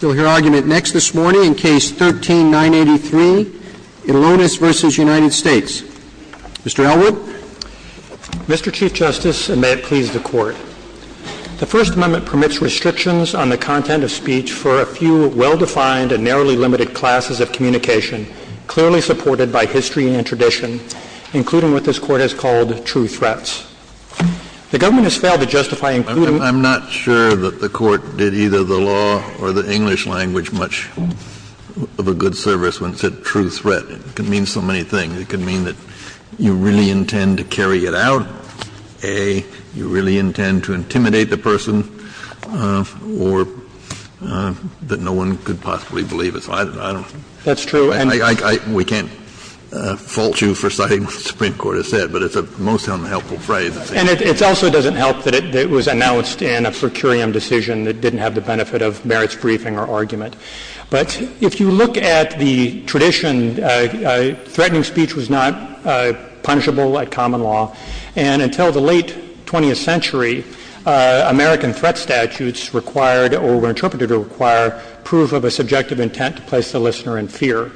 You'll hear argument next this morning in Case 13-983 in Lonis v. United States. Mr. Elwood? Mr. Chief Justice, and may it please the Court, the First Amendment permits restrictions on the content of speech for a few well-defined and narrowly limited classes of communication clearly supported by history and tradition, including what this Court has called true threats. The government has failed to justify including— I'm not sure that the Court did either the law or the English language much of a good service when it said true threat. It could mean so many things. It could mean that you really intend to carry it out, A, you really intend to intimidate the person, or that no one could possibly believe it. So I don't know. That's true. We can't fault you for citing what the Supreme Court has said, but it's a most unhelpful phrase. And it also doesn't help that it was announced in a curium decision that didn't have the benefit of merits briefing or argument. But if you look at the tradition, threatening speech was not punishable at common law. And until the late 20th century, American threat statutes required or were interpreted to require proof of a subjective intent to place the listener in fear.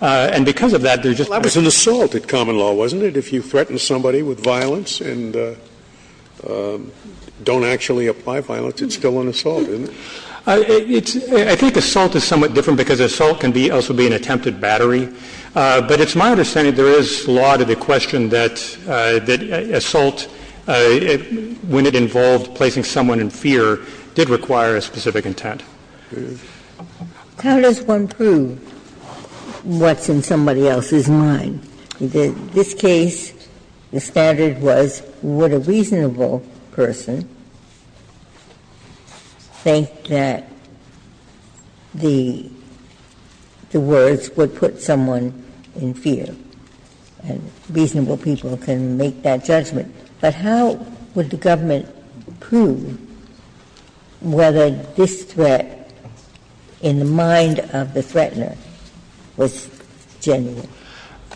And because of that, there's just— It's still an assault at common law, wasn't it? If you threaten somebody with violence and don't actually apply violence, it's still an assault, isn't it? I think assault is somewhat different because assault can also be an attempted battery, but it's my understanding there is law to the question that assault, when it involved placing someone in fear, did require a specific intent. How does one prove what's in somebody else's mind? In this case, the standard was would a reasonable person think that the words would put someone in fear, and reasonable people can make that judgment. But how would the government prove whether this threat in the mind of the threatener was genuine?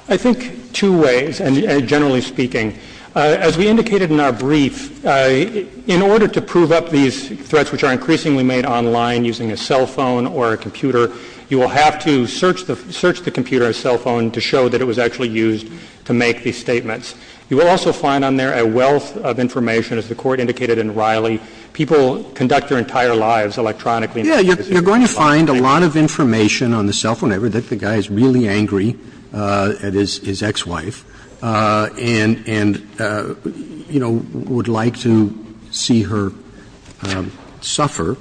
I think two ways, and generally speaking. As we indicated in our brief, in order to prove up these threats, which are increasingly made online using a cell phone or a computer, you will have to search the computer or cell phone to show that it was actually used to make these statements. You will also find on there a wealth of information. As the Court indicated in Riley, people conduct their entire lives electronically and physically. Roberts. You're going to find a lot of information on the cell phone. The guy is really angry at his ex-wife and, you know, would like to see her suffer.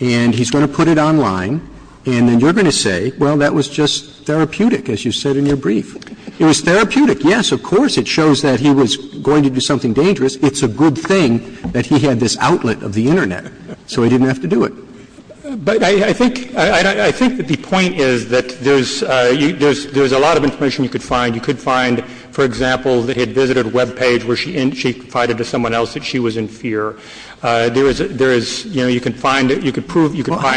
And he's going to put it online. And then you're going to say, well, that was just therapeutic, as you said in your brief. It was therapeutic, yes. Of course, it shows that he was going to do something dangerous. It's a good thing that he had this outlet of the Internet, so he didn't have to do it. But I think the point is that there's a lot of information you could find. You could find, for example, that he had visited a web page where she confided to someone else that she was in fear. There is, you know, you can find, you can prove, you can find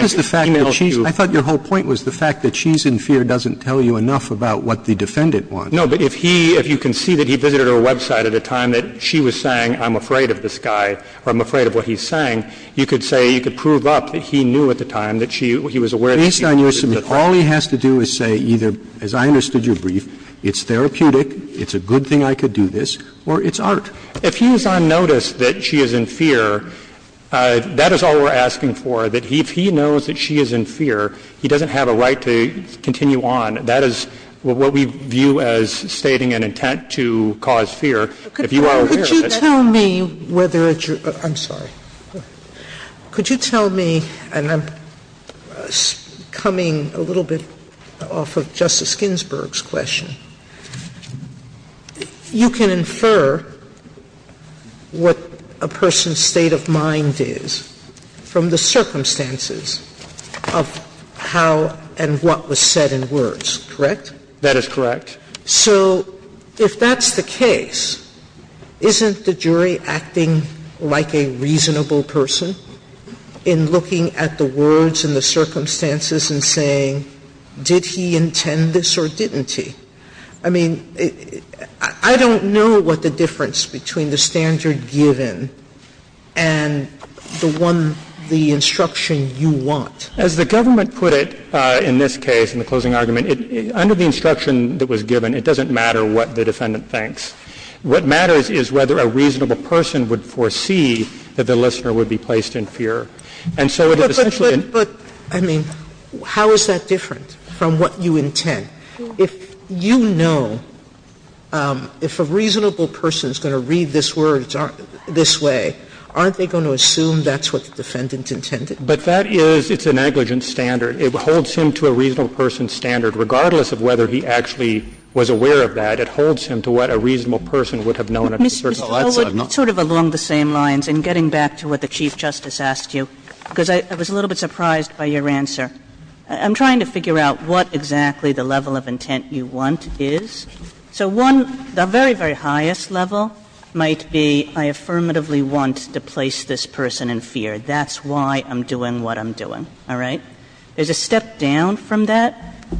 e-mails to. Well, I thought your whole point was the fact that she's in fear doesn't tell you enough about what the defendant wants. No, but if he, if you can see that he visited her website at a time that she was saying I'm afraid of this guy or I'm afraid of what he's saying, you could say, you could prove up that he knew at the time that she, he was aware that she was in fear. All he has to do is say either, as I understood your brief, it's therapeutic, it's a good thing I could do this, or it's art. If he was on notice that she is in fear, that is all we're asking for, that if he knows that she is in fear, he doesn't have a right to continue on. That is what we view as stating an intent to cause fear. If you are aware of this. Sotomayor, could you tell me whether it's your – I'm sorry. Could you tell me, and I'm coming a little bit off of Justice Ginsburg's question. You can infer what a person's state of mind is from the circumstances of how and what was said in words, correct? That is correct. So if that's the case, isn't the jury acting like a reasonable person in looking at the words and the circumstances and saying did he intend this or didn't he? I mean, I don't know what the difference between the standard given and the one, the instruction you want. As the government put it in this case, in the closing argument, under the instruction that was given, it doesn't matter what the defendant thinks. What matters is whether a reasonable person would foresee that the listener would be placed in fear. And so it is essentially a – But, I mean, how is that different from what you intend? If you know, if a reasonable person is going to read these words this way, aren't they going to assume that's what the defendant intended? But that is – it's a negligent standard. It holds him to a reasonable person's standard. Regardless of whether he actually was aware of that, it holds him to what a reasonable person would have known at a certain time. Mr. Gold, sort of along the same lines, and getting back to what the Chief Justice asked you, because I was a little bit surprised by your answer. I'm trying to figure out what exactly the level of intent you want is. So one, the very, very highest level might be I affirmatively want to place this person in fear. That's why I'm doing what I'm doing. All right? There's a step down from that,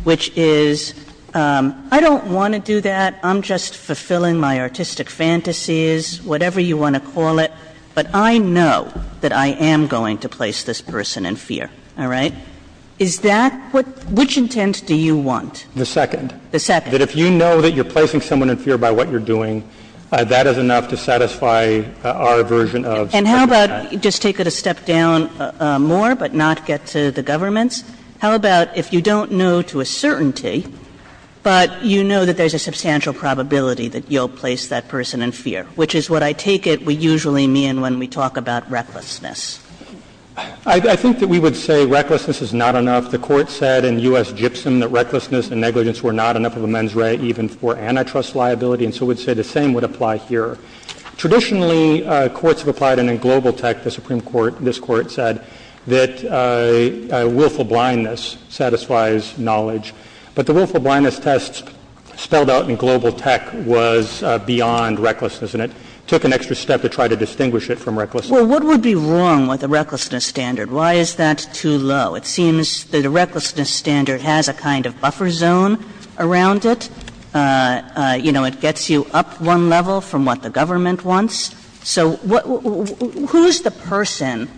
which is I don't want to do that. I'm just fulfilling my artistic fantasies, whatever you want to call it. But I know that I am going to place this person in fear. All right? Is that what – which intent do you want? The second. The second. That if you know that you're placing someone in fear by what you're doing, that is enough to satisfy our version of the standard. And how about just take it a step down more, but not get to the government's? How about if you don't know to a certainty, but you know that there's a substantial probability that you'll place that person in fear, which is what I take it we usually mean when we talk about recklessness? I think that we would say recklessness is not enough. The Court said in U.S. Gibson that recklessness and negligence were not enough of a mens rea even for antitrust liability, and so we'd say the same would apply here. Traditionally, courts have applied it in global tech. The Supreme Court, this Court, said that willful blindness satisfies knowledge. But the willful blindness test spelled out in global tech was beyond recklessness, and it took an extra step to try to distinguish it from recklessness. Well, what would be wrong with a recklessness standard? Why is that too low? It seems that a recklessness standard has a kind of buffer zone around it. You know, it gets you up one level from what the government wants. So who's the person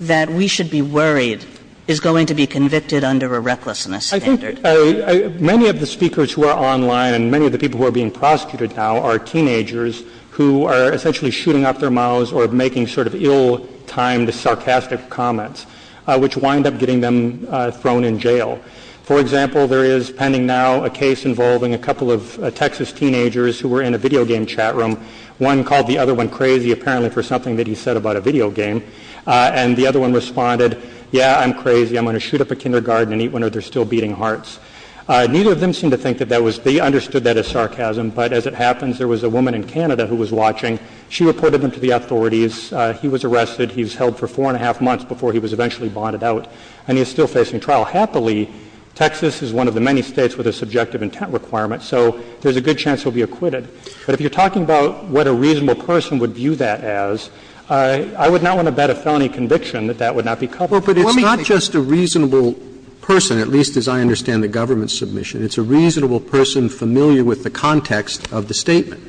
that we should be worried is going to be convicted under a recklessness standard? I think many of the speakers who are online and many of the people who are being prosecuted now are teenagers who are essentially shooting up their mouths or making sort of ill-timed, sarcastic comments, which wind up getting them thrown in jail. For example, there is, pending now, a case involving a couple of Texas teenagers who were in a video game chat room. One called the other one crazy, apparently for something that he said about a video game, and the other one responded, yeah, I'm crazy, I'm going to shoot up a kindergarten and eat one of their still-beating hearts. Neither of them seemed to think that that was — they understood that as sarcasm, but as it happens, there was a woman in Canada who was watching. She reported him to the authorities. He was arrested. He was held for four and a half months before he was eventually bonded out, and he is still facing trial. Happily, Texas is one of the many States with a subjective intent requirement, so there is a good chance he will be acquitted. But if you are talking about what a reasonable person would view that as, I would not want to bet a felony conviction that that would not be covered. Roberts. But it's not just a reasonable person, at least as I understand the government's submission. It's a reasonable person familiar with the context of the statement.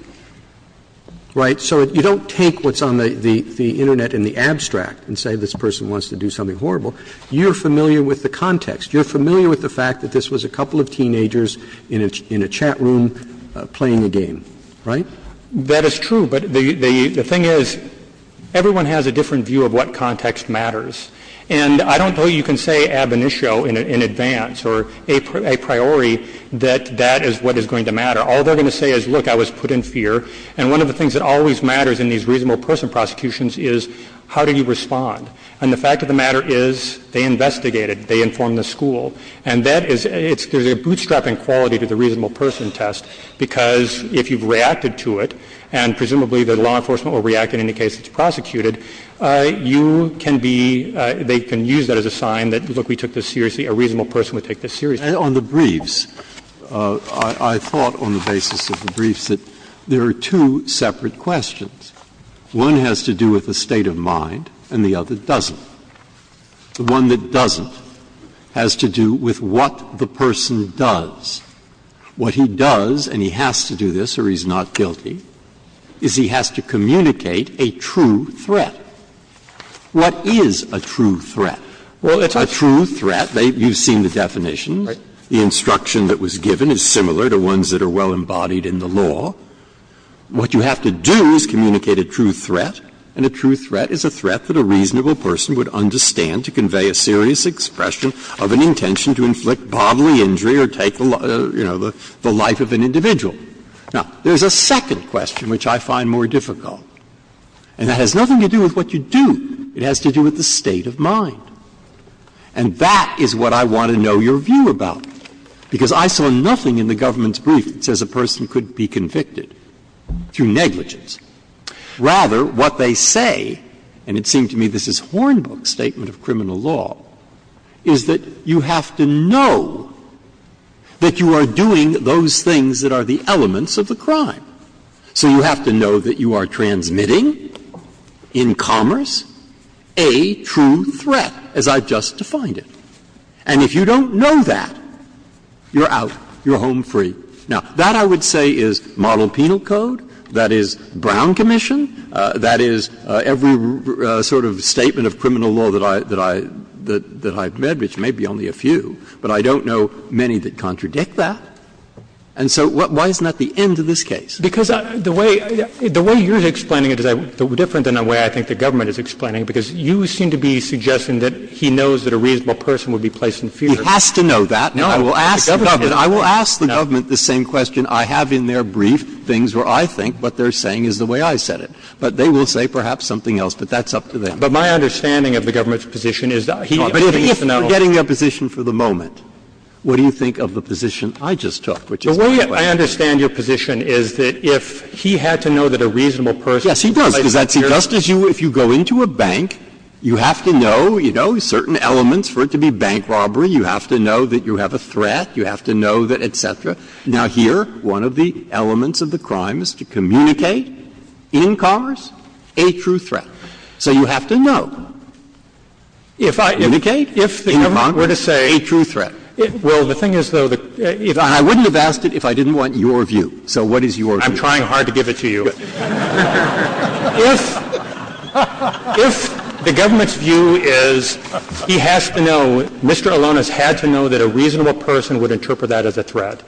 Right? So you don't take what's on the Internet in the abstract and say this person wants to do something horrible. You're familiar with the context. You're familiar with the fact that this was a couple of teenagers in a chat room playing a game. Right? That is true. But the thing is, everyone has a different view of what context matters. And I don't know you can say ab initio in advance or a priori that that is what is going to matter. All they are going to say is, look, I was put in fear. And one of the things that always matters in these reasonable person prosecutions is how do you respond. And the fact of the matter is, they investigated. They informed the school. And that is, it's, there's a bootstrapping quality to the reasonable person test, because if you've reacted to it, and presumably the law enforcement will react in any case that's prosecuted, you can be, they can use that as a sign that, look, we took this seriously, a reasonable person would take this seriously. Breyer. On the briefs, I thought on the basis of the briefs that there are two separate questions. One has to do with the state of mind, and the other doesn't. The one that doesn't has to do with what the person does. What he does, and he has to do this or he's not guilty, is he has to communicate a true threat. What is a true threat? Well, it's a true threat. You've seen the definition. The instruction that was given is similar to ones that are well embodied in the law. What you have to do is communicate a true threat, and a true threat is a threat that a reasonable person would understand to convey a serious expression of an intention to inflict bodily injury or take, you know, the life of an individual. Now, there's a second question which I find more difficult, and that has nothing to do with what you do. It has to do with the state of mind. And that is what I want to know your view about, because I saw nothing in the government's statement of criminal law to say that you have to know that you are doing those things that are the elements of the crime. Rather, what they say, and it seemed to me this is Hornbook's statement of criminal law, is that you have to know that you are doing those things that are the elements of the crime. So you have to know that you are transmitting in commerce a true threat, as I've just defined it. And if you don't know that, you're out. You're home free. Now, that, I would say, is model penal code. That is Brown commission. That is every sort of statement of criminal law that I've met, which may be only a few. But I don't know many that contradict that. And so why isn't that the end of this case? Because the way you're explaining it is different than the way I think the government is explaining it, because you seem to be suggesting that he knows that a reasonable person would be placed in fear. He has to know that. Now, I will ask the government the same question I have in their brief, things where I think what they're saying is the way I said it. But they will say perhaps something else, but that's up to them. But my understanding of the government's position is that he is not. But if you're getting their position for the moment, what do you think of the position I just took, which is my question? The way I understand your position is that if he had to know that a reasonable person was placed in fear. Yes, he does. Does that seem just as you, if you go into a bank, you have to know, you know, certain elements for it to be bank robbery. You have to know that you have a threat. You have to know that, et cetera. Now, here, one of the elements of the crime is to communicate in Congress a true threat. So you have to know. Communicate in Congress a true threat. Well, the thing is, though, the question is, I wouldn't have asked it if I didn't want your view. So what is your view? I'm trying hard to give it to you. If the government's view is he has to know, Mr. Alonis had to know that a reasonable person would interpret that as a threat,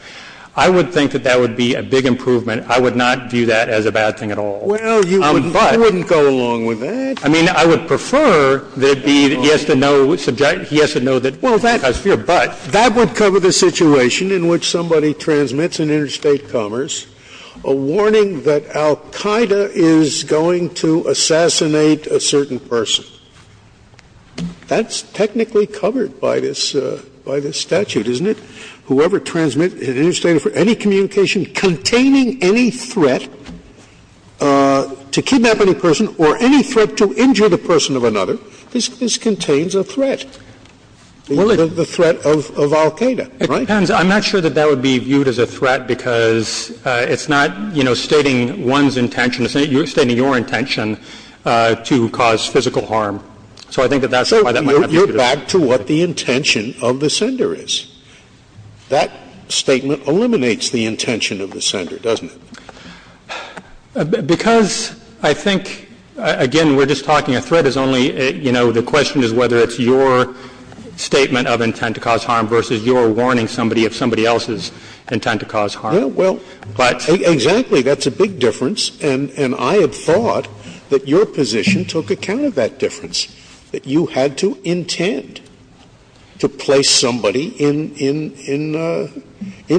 I would think that that would be a big improvement. I would not view that as a bad thing at all. Well, you wouldn't go along with that. I mean, I would prefer that it be that he has to know, he has to know that he has fear. But that would cover the situation in which somebody transmits an interstate commerce, a warning that al-Qaida is going to assassinate a certain person. That's technically covered by this statute, isn't it? Whoever transmits an interstate, any communication containing any threat to kidnap any person or any threat to injure the person of another, this contains a threat. The threat of al-Qaida, right? It depends. I'm not sure that that would be viewed as a threat because it's not, you know, stating one's intention. It's stating your intention to cause physical harm. So I think that that's why that might not be viewed as a threat. So you're back to what the intention of the sender is. That statement eliminates the intention of the sender, doesn't it? Because I think, again, we're just talking a threat is only, you know, the question is whether it's your statement of intent to cause harm versus your warning somebody of somebody else's intent to cause harm. But to me, that's a big difference. And I have thought that your position took account of that difference, that you had to intend to place somebody in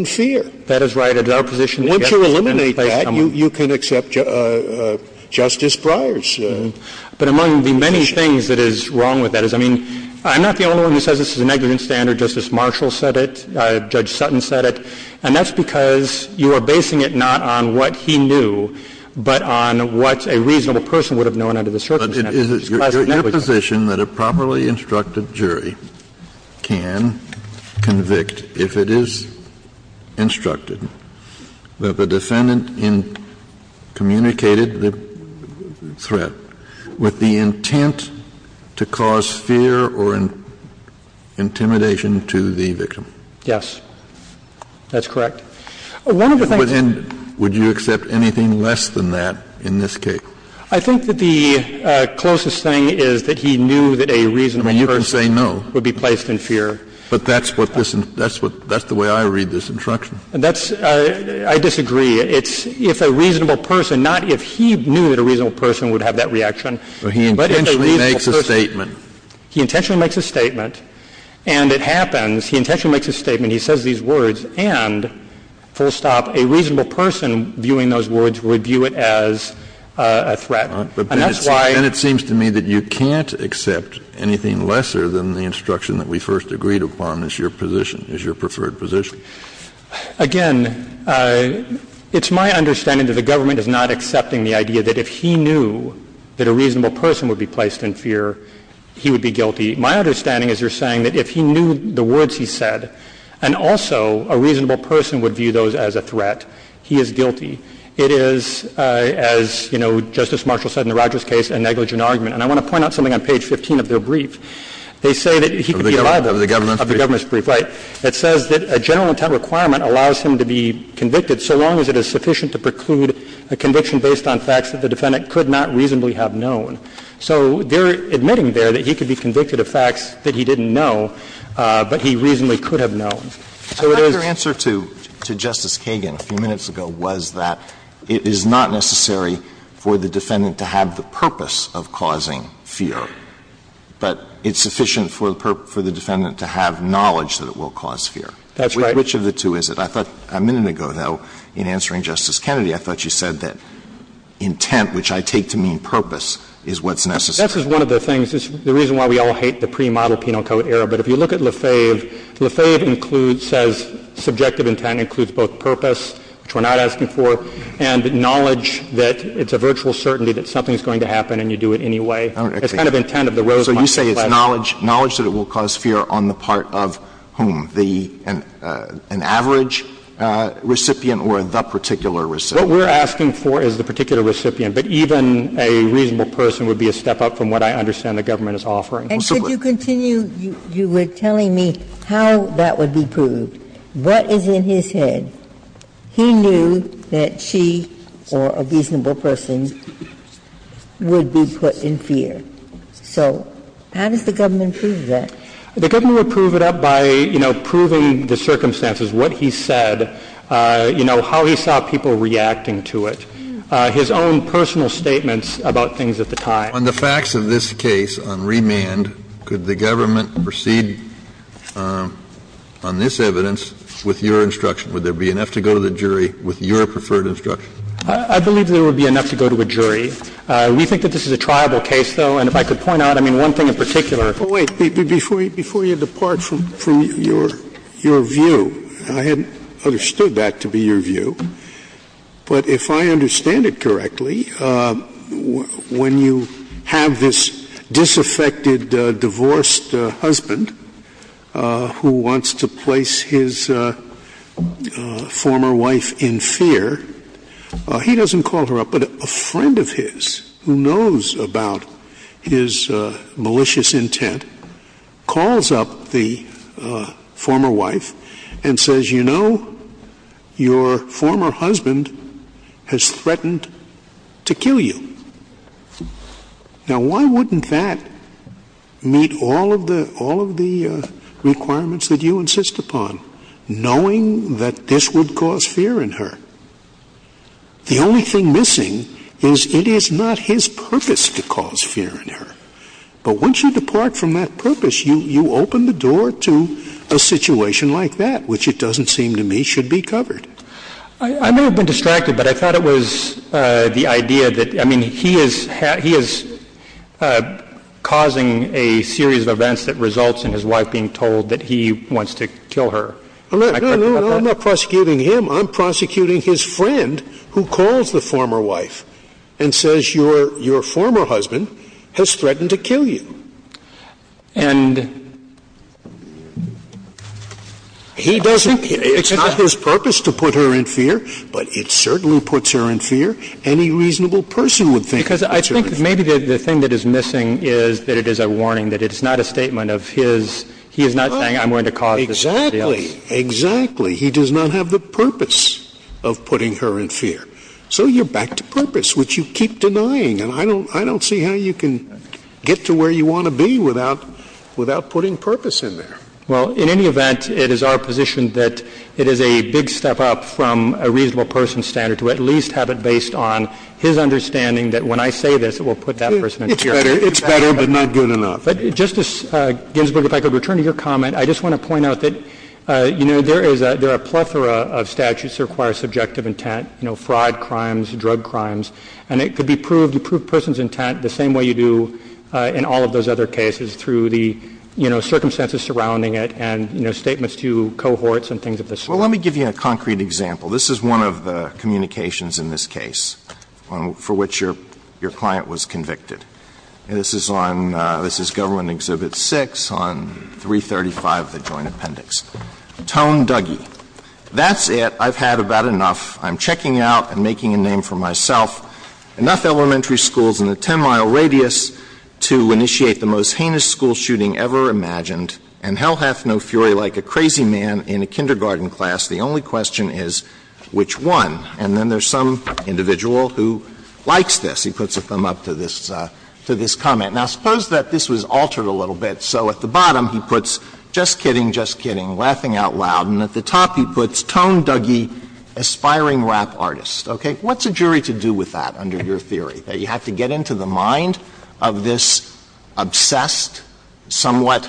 fear. That is right. At our position, you can't place somebody. Once you eliminate that, you can accept Justice Breyer's position. But among the many things that is wrong with that is, I mean, I'm not the only one who says this is a negligent standard. Justice Marshall said it. Judge Sutton said it. And that's because you are basing it not on what he knew, but on what a reasonable person would have known under the circumstances. Kennedy, your position that a properly instructed jury can convict if it is instructed that the defendant communicated the threat with the intent to cause fear or intimidation to the victim? Yes. That's correct. One of the things that's wrong with that is that it's not a reasonable person. I think that the closest thing is that he knew that a reasonable person would be placed in fear. But that's what this — that's what — that's the way I read this instruction. That's — I disagree. It's if a reasonable person, not if he knew that a reasonable person would have that reaction, but if a reasonable person— But he intentionally makes a statement. He intentionally makes a statement, and it happens. He intentionally makes a statement. He says these words. And, full stop, a reasonable person viewing those words would view it as a threat. And that's why— Then it seems to me that you can't accept anything lesser than the instruction that we first agreed upon as your position, as your preferred position. Again, it's my understanding that the government is not accepting the idea that if he knew that a reasonable person would be placed in fear, he would be guilty. My understanding is you're saying that if he knew the words he said, and also a reasonable person would view those as a threat, he is guilty. It is, as, you know, Justice Marshall said in the Rogers case, a negligent argument. And I want to point out something on page 15 of their brief. They say that he could be alive— Of the government's brief. Of the government's brief, right. It says that a general intent requirement allows him to be convicted so long as it is sufficient to preclude a conviction based on facts that the defendant could not reasonably have known. So they're admitting there that he could be convicted of facts that he didn't know, but he reasonably could have known. So it is— Alitoso, I think your answer to Justice Kagan a few minutes ago was that it is not necessary for the defendant to have the purpose of causing fear, but it's sufficient for the defendant to have knowledge that it will cause fear. That's right. Which of the two is it? I thought a minute ago, though, in answering Justice Kennedy, I thought you said that intent, which I take to mean purpose, is what's necessary. That's just one of the things. It's the reason why we all hate the pre-model Penal Code era. But if you look at Lefebvre, Lefebvre includes, says subjective intent includes both purpose, which we're not asking for, and knowledge that it's a virtual certainty that something is going to happen and you do it anyway. It's kind of intent of the Rosemont case. So you say it's knowledge, knowledge that it will cause fear on the part of whom? The an average recipient or the particular recipient? What we're asking for is the particular recipient, but even a reasonable person would be a step up from what I understand the government is offering. And could you continue? You were telling me how that would be proved. What is in his head? He knew that she or a reasonable person would be put in fear. So how does the government prove that? The government would prove it up by, you know, proving the circumstances, what he said, you know, how he saw people reacting to it, his own personal statements about things at the time. On the facts of this case on remand, could the government proceed on this evidence with your instruction? Would there be enough to go to the jury with your preferred instruction? I believe there would be enough to go to a jury. We think that this is a triable case, though, and if I could point out, I mean, one thing in particular. Scalia, before you depart from your view, I hadn't understood that to be your view. But if I understand it correctly, when you have this disaffected, divorced husband who wants to place his former wife in fear, he doesn't call her up, but a friend of his who knows about his malicious intent calls up the former wife and says, you know, your former husband has threatened to kill you. Now, why wouldn't that meet all of the requirements that you insist upon, knowing that this would cause fear in her? The only thing missing is it is not his purpose to cause fear in her. But once you depart from that purpose, you open the door to a situation like that, which it doesn't seem to me should be covered. I may have been distracted, but I thought it was the idea that, I mean, he is causing a series of events that results in his wife being told that he wants to kill her. Am I correct about that? No, no, no. I'm not prosecuting him. I'm prosecuting his friend who calls the former wife and says, your former husband has threatened to kill you. And he doesn't, it's not his purpose to put her in fear, but it certainly puts her in fear. Any reasonable person would think it's a reasonable purpose. Because I think maybe the thing that is missing is that it is a warning, that it is not a statement of his, he is not saying I'm going to cause this to be a serious case. Exactly. Exactly. He does not have the purpose of putting her in fear. So you're back to purpose, which you keep denying. And I don't, I don't see how you can get to where you want to be without, without putting purpose in there. Well, in any event, it is our position that it is a big step up from a reasonable person's standard to at least have it based on his understanding that when I say this, it will put that person in fear. It's better, but not good enough. But, Justice Ginsburg, if I could return to your comment, I just want to point out that, you know, there is a, there are a plethora of statutes that require subjective intent, you know, fraud, crimes, drug crimes, and it could be proved, you prove a person's intent the same way you do in all of those other cases through the, you know, circumstances surrounding it and, you know, statements to cohorts and things of this sort. Well, let me give you a concrete example. This is one of the communications in this case for which your, your client was convicted. And this is on, this is Government Exhibit 6 on 335 of the Joint Appendix. Tone Duggee. That's it, I've had about enough, I'm checking out and making a name for myself. Enough elementary schools in a 10-mile radius to initiate the most heinous school shooting ever imagined, and hell hath no fury like a crazy man in a kindergarten class. The only question is which one. And then there's some individual who likes this. He puts a thumb up to this, to this comment. Now, suppose that this was altered a little bit. So at the bottom he puts, just kidding, just kidding, laughing out loud, and at the top he puts Tone Duggee, aspiring rap artist. Okay. What's a jury to do with that under your theory, that you have to get into the mind of this obsessed, somewhat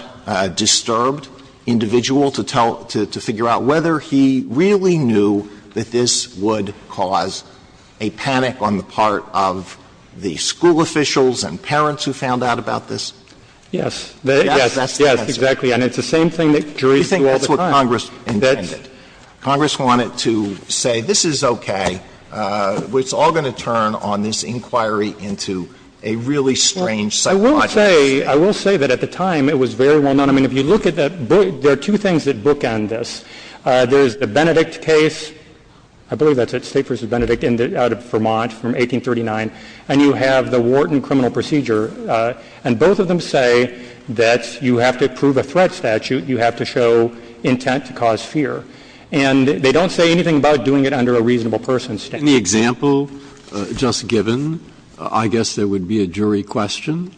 disturbed individual to tell, to figure out whether he really knew that this would cause a panic on the part of the school officials and parents who found out about this? Yes. Yes, yes, exactly. And it's the same thing that juries do all the time. That's what Congress intended. Congress wanted to say, this is okay, it's all going to turn on this inquiry into a really strange psychological state. I will say that at the time it was very well known. I mean, if you look at that book, there are two things that bookend this. There's the Benedict case, I believe that's it, State v. Benedict out of Vermont from 1839, and you have the Wharton criminal procedure. And both of them say that you have to prove a threat statute, you have to show intent to cause fear. In the example just given, I guess there would be a jury question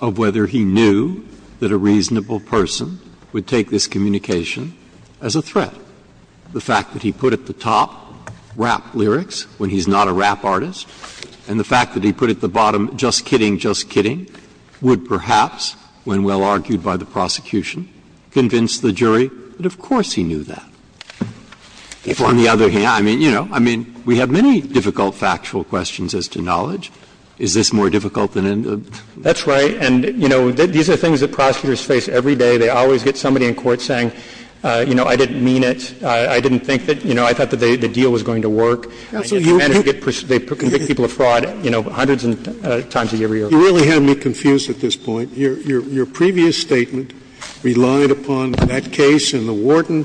of whether he knew that a reasonable person would take this communication as a threat. The fact that he put at the top rap lyrics when he's not a rap artist, and the fact that he put at the bottom, just kidding, just kidding, would perhaps, when well argued by the prosecution, convince the jury that of course he knew that. If on the other hand, I mean, you know, I mean, we have many difficult factual questions as to knowledge. Is this more difficult than any of them? That's right. And, you know, these are things that prosecutors face every day. They always get somebody in court saying, you know, I didn't mean it, I didn't think that, you know, I thought that the deal was going to work. And they convict people of fraud, you know, hundreds of times a year. You really have me confused at this point. Scalia, your previous statement relied upon that case in the Wharton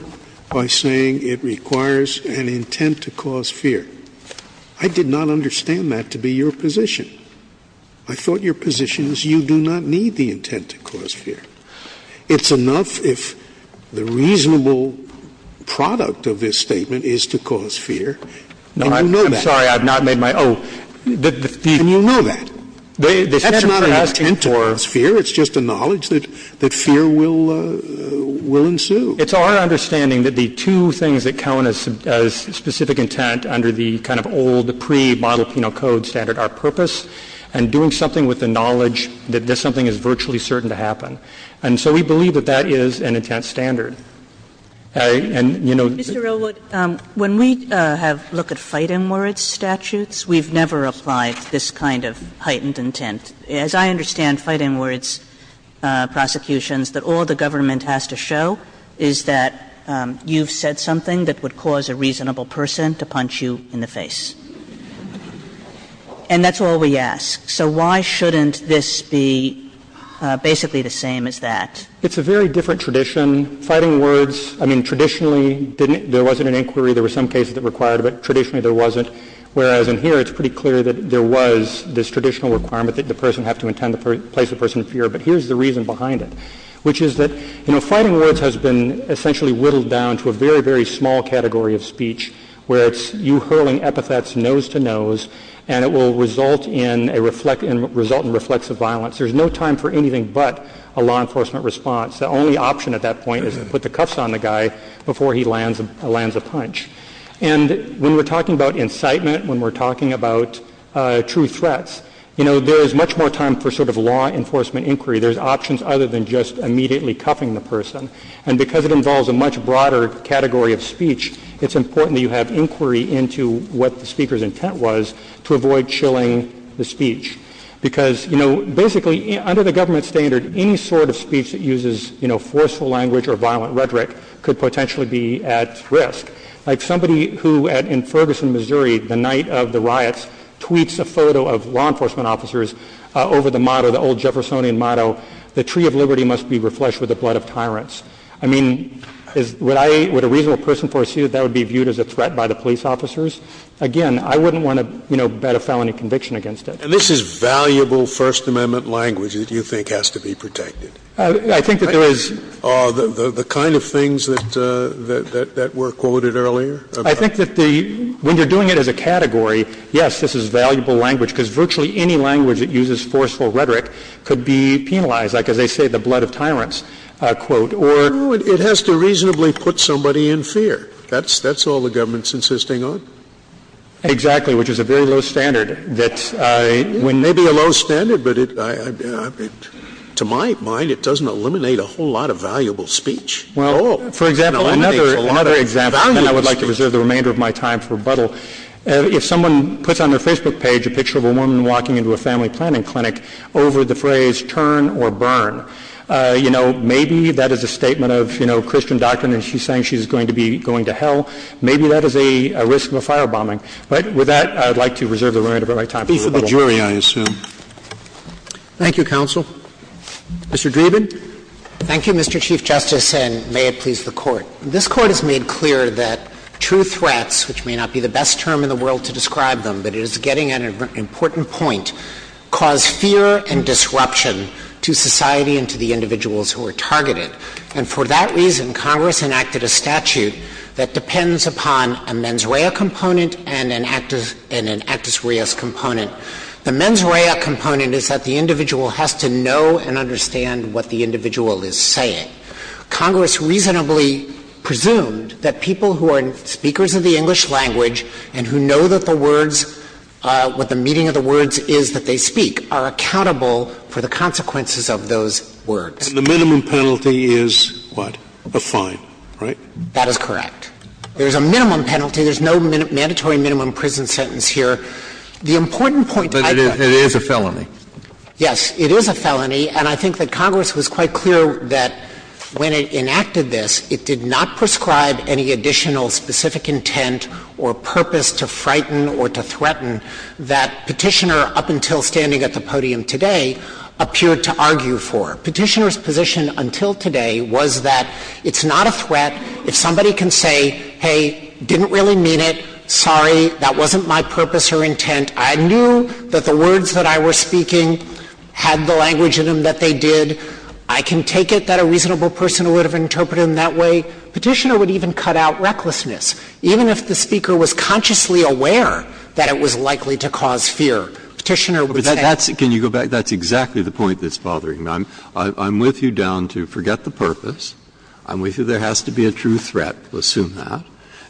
by saying it requires an intent to cause fear. I did not understand that to be your position. I thought your position is you do not need the intent to cause fear. It's enough if the reasonable product of this statement is to cause fear, and you know that. No, I'm sorry, I've not made my own. And you know that. That's not an intent to cause fear. It's just a knowledge that fear will ensue. It's our understanding that the two things that count as specific intent under the kind of old pre-model penal code standard are purpose and doing something with the knowledge that something is virtually certain to happen. And so we believe that that is an intent standard. And, you know — Mr. Elwood, when we have looked at fight-and-warrant statutes, we've never applied this kind of heightened intent. As I understand fight-and-words prosecutions, that all the government has to show is that you've said something that would cause a reasonable person to punch you in the face. And that's all we ask. So why shouldn't this be basically the same as that? It's a very different tradition. Fight-and-words, I mean, traditionally, there wasn't an inquiry. There were some cases that required it, but traditionally there wasn't. Whereas in here, it's pretty clear that there was this traditional requirement that the person have to intend to place the person in fear. But here's the reason behind it, which is that, you know, fight-and-words has been essentially whittled down to a very, very small category of speech where it's you hurling epithets nose-to-nose, and it will result in a reflect — result in reflexive violence. There's no time for anything but a law enforcement response. The only option at that point is to put the cuffs on the guy before he lands — lands a punch. And when we're talking about incitement, when we're talking about true threats, you know, there is much more time for sort of law enforcement inquiry. There's options other than just immediately cuffing the person. And because it involves a much broader category of speech, it's important that you have inquiry into what the speaker's intent was to avoid chilling the speech. Because, you know, basically, under the government standard, any sort of speech that uses, you know, forceful language or violent rhetoric could potentially be at risk. Like somebody who, in Ferguson, Missouri, the night of the riots, tweets a photo of law enforcement officers over the motto, the old Jeffersonian motto, the tree of liberty must be refleshed with the blood of tyrants. I mean, is — would I — would a reasonable person foresee that that would be viewed as a threat by the police officers? Again, I wouldn't want to, you know, bet a felony conviction against it. And this is valuable First Amendment language that you think has to be protected. I think that there is — Scalia. The kind of things that were quoted earlier? I think that the — when you're doing it as a category, yes, this is valuable language, because virtually any language that uses forceful rhetoric could be penalized, like, as they say, the blood of tyrants, quote, or — No, it has to reasonably put somebody in fear. That's all the government's insisting on. Exactly, which is a very low standard that — may be a low standard, but it — to my mind, it doesn't eliminate a whole lot of valuable speech. Well, for example, another example, and I would like to reserve the remainder of my time for rebuttal, if someone puts on their Facebook page a picture of a woman walking into a family planning clinic over the phrase, turn or burn, you know, maybe that is a statement of, you know, Christian doctrine, and she's saying she's going to be going to hell. Maybe that is a risk of a firebombing. But with that, I would like to reserve the remainder of my time for rebuttal. Peace of the jury, I assume. Thank you, counsel. Mr. Dreeben. Thank you, Mr. Chief Justice, and may it please the Court. This Court has made clear that true threats, which may not be the best term in the world to describe them, but it is getting at an important point, cause fear and disruption to society and to the individuals who are targeted. And for that reason, Congress enacted a statute that depends upon a mens rea component and an actus reus component. The mens rea component is that the individual has to know and understand what the individual is saying. Congress reasonably presumed that people who are speakers of the English language and who know that the words, what the meaning of the words is that they speak, are accountable for the consequences of those words. And the minimum penalty is what? A fine, right? That is correct. There is a minimum penalty. There is no mandatory minimum prison sentence here. The important point I've got to make is that it is a felony. Yes, it is a felony. And I think that Congress was quite clear that when it enacted this, it did not prescribe any additional specific intent or purpose to frighten or to threaten that Petitioner up until standing at the podium today appeared to argue for. Petitioner's position until today was that it's not a threat if somebody can say, hey, didn't really mean it, sorry, that wasn't my purpose or intent, I knew that the words that I was speaking had the language in them that they did, I can take it that a reasonable person would have interpreted them that way, Petitioner would even cut out recklessness, even if the speaker was consciously aware that it was likely to cause fear. Petitioner would say that's it. Breyer, can you go back? That's exactly the point that's bothering me. I'm with you down to forget the purpose. I'm with you there has to be a true threat, we'll assume that.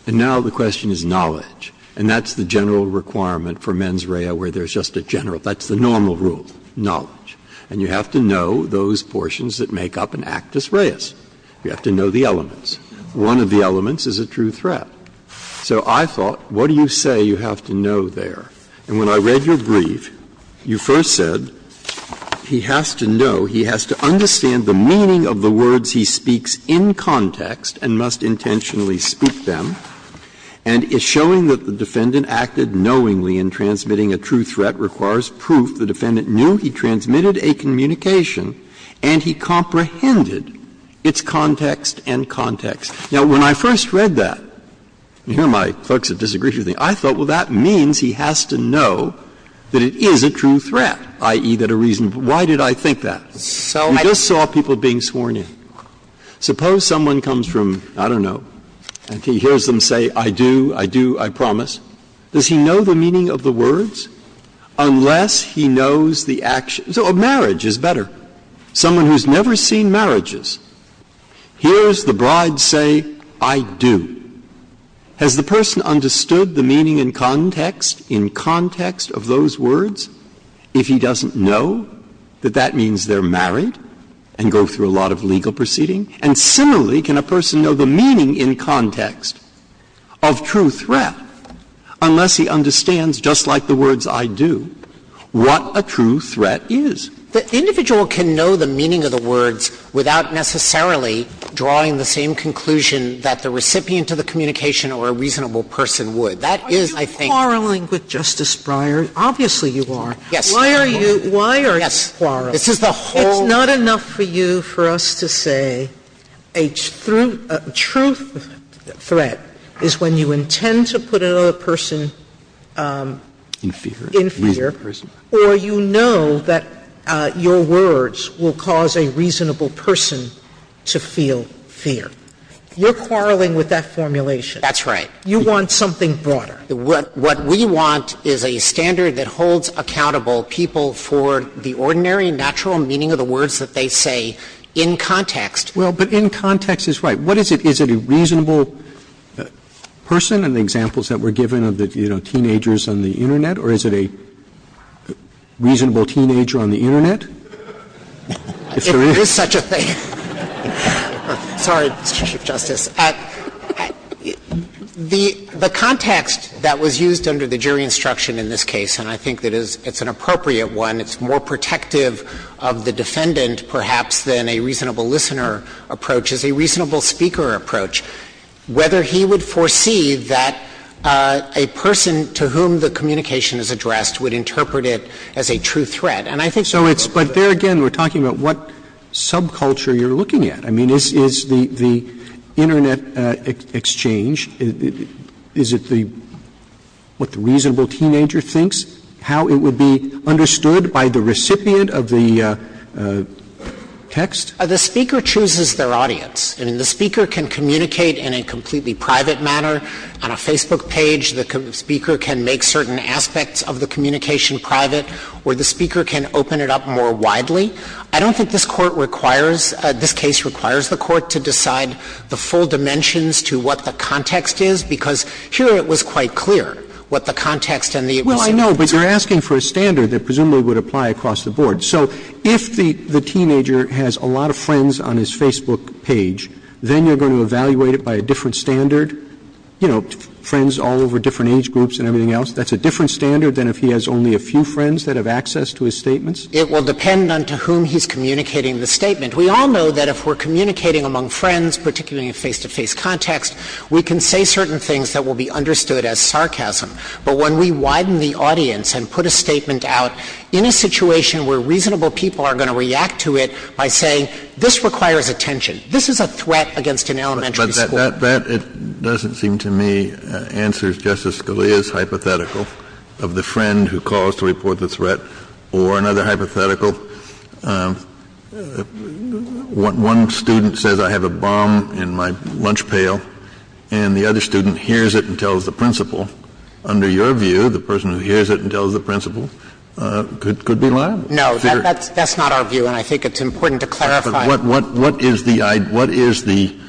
And now the question is knowledge. And that's the general requirement for mens rea where there's just a general, that's the normal rule, knowledge. And you have to know those portions that make up an actus reus. You have to know the elements. One of the elements is a true threat. So I thought, what do you say you have to know there? And when I read your brief, you first said, he has to know, he has to understand the meaning of the words he speaks in context and must intentionally speak them, and is showing that the defendant acted knowingly in transmitting a true threat requires proof the defendant knew he transmitted a communication and he comprehended its context and context. Now, when I first read that, and here are my folks that disagree with me, I thought, well, that means he has to know that it is a true threat, i.e., that a reasonable And I thought, well, why did I think that? You just saw people being sworn in. Suppose someone comes from, I don't know, and he hears them say, I do, I do, I promise. Does he know the meaning of the words unless he knows the action? So a marriage is better. Someone who's never seen marriages. Here's the bride say, I do. Has the person understood the meaning in context, in context of those words? If he doesn't know, that that means they're married and go through a lot of legal proceeding? And similarly, can a person know the meaning in context of true threat unless he understands, just like the words I do, what a true threat is? The individual can know the meaning of the words without necessarily drawing the same conclusion that the recipient of the communication or a reasonable person would. That is, I think Are you quarreling with Justice Breyer? Obviously, you are. Yes. Why are you, why are you quarreling? This is the whole It's not enough for you for us to say a true threat is when you intend to put another person in fear, or you know that your words will cause a reasonable person to feel fear. You're quarreling with that formulation. That's right. You want something broader. What we want is a standard that holds accountable people for the ordinary natural meaning of the words that they say in context. Well, but in context is right. What is it? Is it a reasonable person? And the examples that were given of the teenagers on the Internet, or is it a reasonable teenager on the Internet? If there is such a thing. Sorry, Mr. Chief Justice. The context that was used under the jury instruction in this case, and I think that it's an appropriate one, it's more protective of the defendant, perhaps, than a reasonable listener approach, is a reasonable speaker approach, whether he would foresee that a person to whom the communication is addressed would interpret it as a true threat. And I think so it's, but there again, we're talking about what subculture you're looking at. I mean, is the Internet exchange, is it the, what the reasonable teenager thinks, how it would be understood by the recipient of the text? The speaker chooses their audience. I mean, the speaker can communicate in a completely private manner on a Facebook page. The speaker can make certain aspects of the communication private, or the speaker can open it up more widely. I don't think this Court requires, this case requires the Court to decide the full dimensions to what the context is, because here it was quite clear what the context and the recipient of the text. Roberts, Well, I know, but you're asking for a standard that presumably would apply across the board. So if the teenager has a lot of friends on his Facebook page, then you're going to evaluate it by a different standard, you know, friends all over different age groups and everything else. That's a different standard than if he has only a few friends that have access to his statements? It will depend on to whom he's communicating the statement. We all know that if we're communicating among friends, particularly in a face-to-face context, we can say certain things that will be understood as sarcasm. But when we widen the audience and put a statement out in a situation where reasonable people are going to react to it by saying, this requires attention, this is a threat against an elementary school. Kennedy, that doesn't seem to me answer Justice Scalia's hypothetical of the friend who calls to report the threat or another hypothetical. One student says, I have a bomb in my lunch pail, and the other student hears it and tells the principal. Under your view, the person who hears it and tells the principal could be liable. No, that's not our view, and I think it's important to clarify. Kennedy, but what is the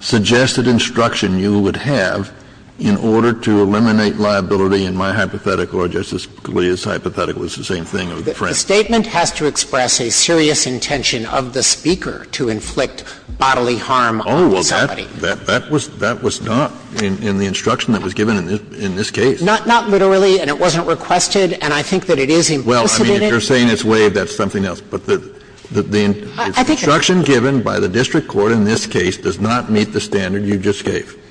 suggested instruction you would have in order to eliminate liability in my hypothetical or Justice Scalia's hypothetical, it's the same thing, of the friend? The statement has to express a serious intention of the speaker to inflict bodily harm on somebody. Oh, well, that was not in the instruction that was given in this case. Not literally, and it wasn't requested, and I think that it is implicit in it. Well, I mean, if you're saying it's waived, that's something else. But the instruction given by the district court in this case does not meet the standard you just gave.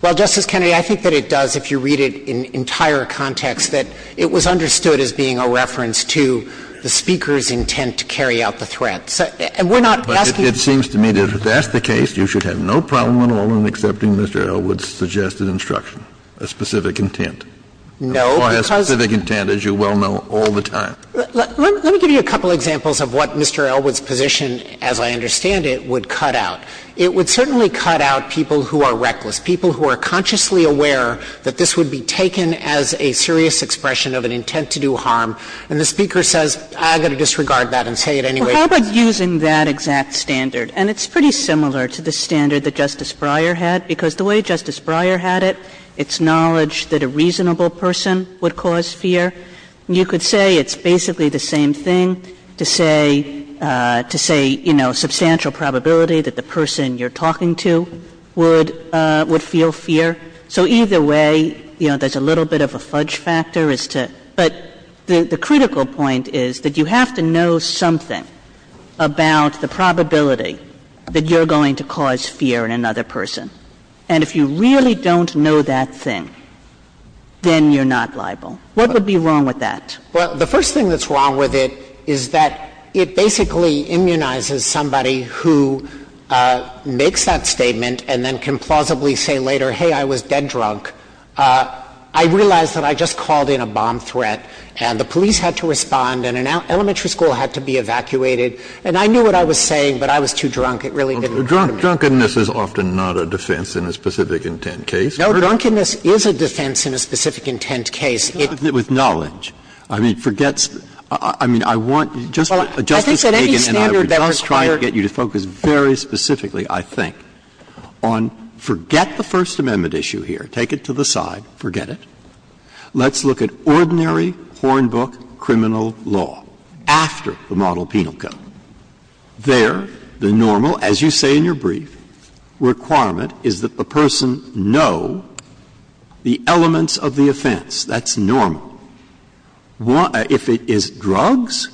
Well, Justice Kennedy, I think that it does, if you read it in entire context, that it was understood as being a reference to the speaker's intent to carry out the threat. And we're not asking you to do that. But it seems to me that if that's the case, you should have no problem at all in accepting Mr. Elwood's suggested instruction, a specific intent. No, because the reason why it's a specific intent, as you well know, all the time is because it's a specific intent. Let me give you a couple of examples of what Mr. Elwood's position, as I understand it, would cut out. It would certainly cut out people who are reckless, people who are consciously aware that this would be taken as a serious expression of an intent to do harm, and the speaker says, I've got to disregard that and say it anyway. Well, how about using that exact standard? And it's pretty similar to the standard that Justice Breyer had, because the way Justice Breyer had it, it's knowledge that a reasonable person would cause fear. You could say it's basically the same thing to say, to say, you know, substantial probability that the person you're talking to would feel fear. So either way, you know, there's a little bit of a fudge factor as to – but the critical point is that you have to know something about the probability that you're going to cause fear in another person. And if you really don't know that thing, then you're not liable. What would be wrong with that? Well, the first thing that's wrong with it is that it basically immunizes somebody who makes that statement and then can plausibly say later, hey, I was dead drunk, I realized that I just called in a bomb threat, and the police had to respond, and an elementary school had to be evacuated, and I knew what I was saying, but I was too drunk. It really didn't matter to me. Drunkenness is often not a defense in a specific intent case, correct? No, drunkenness is a defense in a specific intent case. With knowledge. I mean, forget – I mean, I want – Justice Kagan and I were just trying to get you to focus very specifically, I think, on forget the First Amendment issue here, take it to the side, forget it. Let's look at ordinary Hornbook criminal law after the model penal code. There, the normal, as you say in your brief, requirement is that the person know the elements of the offense. That's normal. If it is drugs,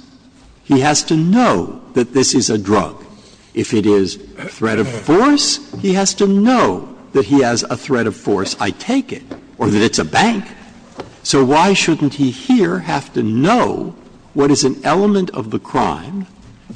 he has to know that this is a drug. If it is threat of force, he has to know that he has a threat of force, I take it, or that it's a bank. So why shouldn't he here have to know what is an element of the crime,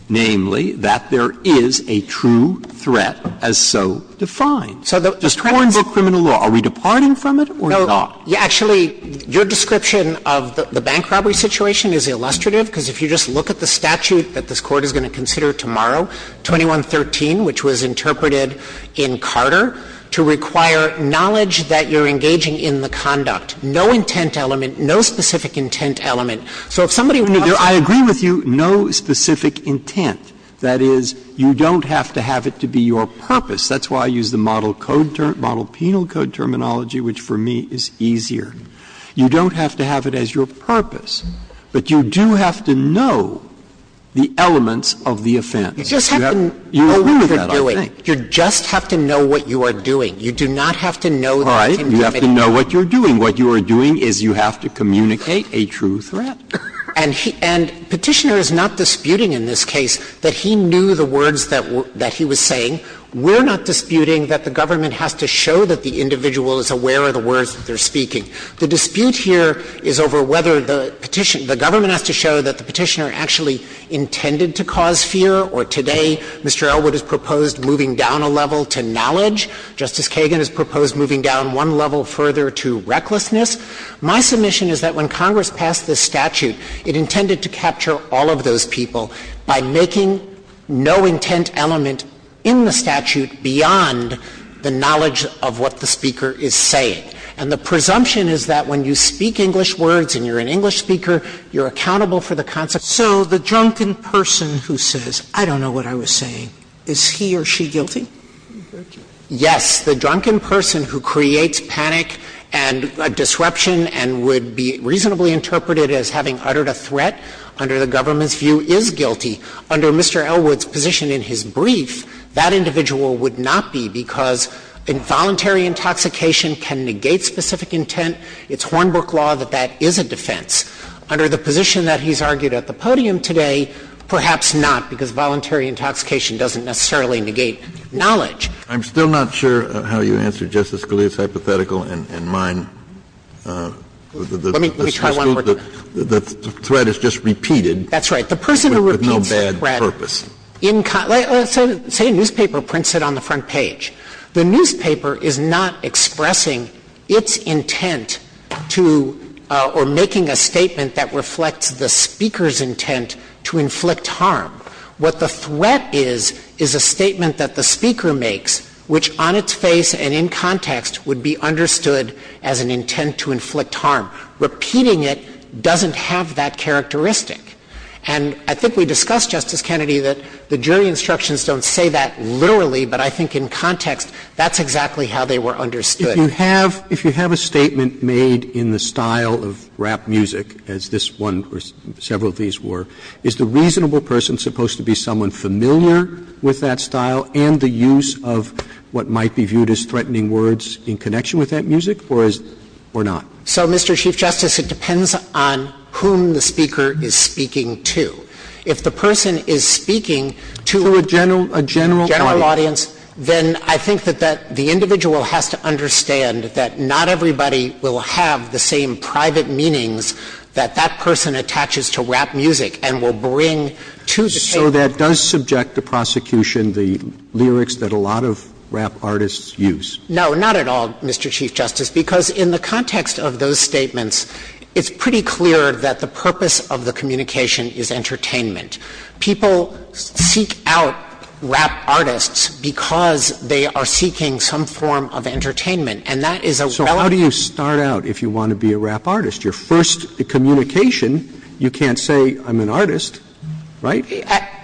namely, that there is a true threat as so defined? So the Hornbook criminal law, are we departing from it or not? Actually, your description of the bank robbery situation is illustrative, because if you just look at the statute that this Court is going to consider tomorrow, 2113, which was interpreted in Carter, to require knowledge that you're engaging in the conduct, no intent element, no specific intent element. So if somebody wants to – I agree with you, no specific intent. That is, you don't have to have it to be your purpose. That's why I use the model code – model penal code terminology, which for me is easier. You don't have to have it as your purpose, but you do have to know the elements of the offense. You agree with that, I think. You just have to know what you are doing. You do not have to know that it's intimidating. Right. You have to know what you're doing. What you are doing is you have to communicate a true threat. And Petitioner is not disputing in this case that he knew the words that he was saying. We're not disputing that the government has to show that the individual is aware of the words that they're speaking. The dispute here is over whether the petition – the government has to show that the Petitioner actually intended to cause fear, or today Mr. Elwood has proposed moving down a level to knowledge. Justice Kagan has proposed moving down one level further to recklessness. My submission is that when Congress passed this statute, it intended to capture all of those people by making no intent element in the statute beyond the knowledge of what the speaker is saying. And the presumption is that when you speak English words and you're an English speaker, you're accountable for the concept. So the drunken person who says, I don't know what I was saying, is he or she guilty? Yes. The drunken person who creates panic and disruption and would be reasonably interpreted as having uttered a threat under the government's view is guilty. Under Mr. Elwood's position in his brief, that individual would not be because involuntary intoxication can negate specific intent. It's Hornbrook law that that is a defense. Under the position that he's argued at the podium today, perhaps not, because voluntary intoxication doesn't necessarily negate knowledge. Kennedy, I'm still not sure how you answer Justice Scalia's hypothetical and mine. Let me try one more time. The threat is just repeated. That's right. The person who repeats the threat. Say a newspaper prints it on the front page. The newspaper is not expressing its intent to or making a statement that reflects the speaker's intent to inflict harm. What the threat is is a statement that the speaker makes, which on its face and in the newspaper is a statement that the speaker is not expressing its intent to inflict harm. Repeating it doesn't have that characteristic. And I think we discussed, Justice Kennedy, that the jury instructions don't say that literally, but I think in context that's exactly how they were understood. Roberts. If you have a statement made in the style of rap music, as this one or several of these were, is the reasonable person supposed to be someone familiar with that style of rap music? So, Mr. Chief Justice, it depends on whom the speaker is speaking to. If the person is speaking to a general audience, then I think that that the individual has to understand that not everybody will have the same private meanings that that person attaches to rap music and will bring to the table. So that does subject the prosecution the lyrics that a lot of rap artists use? No, not at all, Mr. Chief Justice, because in the context of those statements, it's pretty clear that the purpose of the communication is entertainment. People seek out rap artists because they are seeking some form of entertainment, and that is a relative So how do you start out if you want to be a rap artist? Your first communication, you can't say, I'm an artist, right?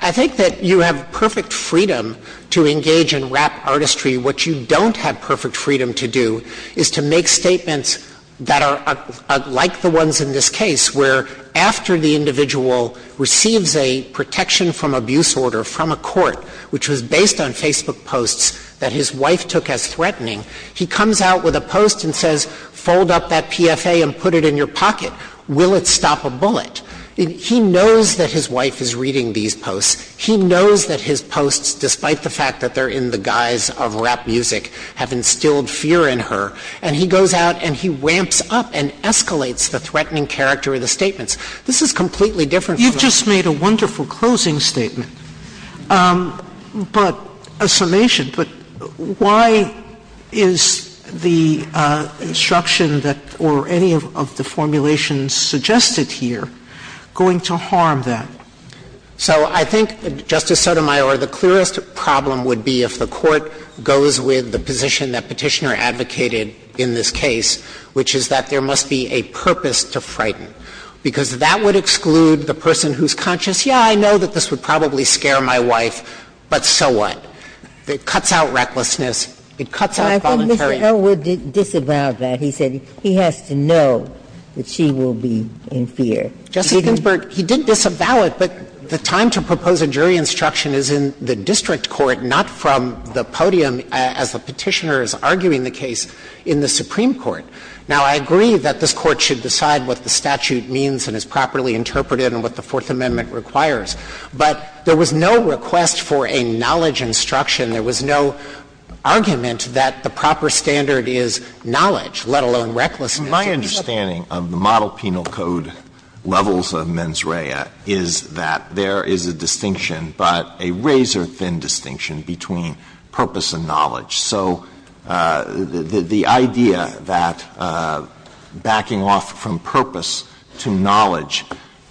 I think that you have perfect freedom to engage in rap artistry. What you don't have perfect freedom to do is to make statements that are like the ones in this case, where after the individual receives a protection from abuse order from a court, which was based on Facebook posts that his wife took as threatening, he comes out with a post and says, fold up that PFA and put it in your pocket. Will it stop a bullet? He knows that his wife is reading these posts. He knows that his posts, despite the fact that they're in the guise of rap music, have instilled fear in her. And he goes out and he ramps up and escalates the threatening character of the statements. This is completely different from- You just made a wonderful closing statement, but a summation. But why is the instruction that, or any of the formulations suggested here, going to harm that? So I think, Justice Sotomayor, the clearest problem would be if the court goes with the position that Petitioner advocated in this case, which is that there must be a purpose to frighten, because that would exclude the person who's conscious, yeah, I know that this would probably scare my wife, but so what? It cuts out recklessness, it cuts out voluntary- But I think Mr. Elwood disavowed that. He said he has to know that she will be in fear. Justice Ginsburg, he did disavow it, but the time to propose a jury instruction is in the district court, not from the podium as the Petitioner is arguing the case in the Supreme Court. Now, I agree that this Court should decide what the statute means and is properly interpreted and what the Fourth Amendment requires, but there was no request for a knowledge instruction. There was no argument that the proper standard is knowledge, let alone recklessness. My understanding of the Model Penal Code levels of mens rea is that there is a distinction, but a razor-thin distinction, between purpose and knowledge. So the idea that backing off from purpose to knowledge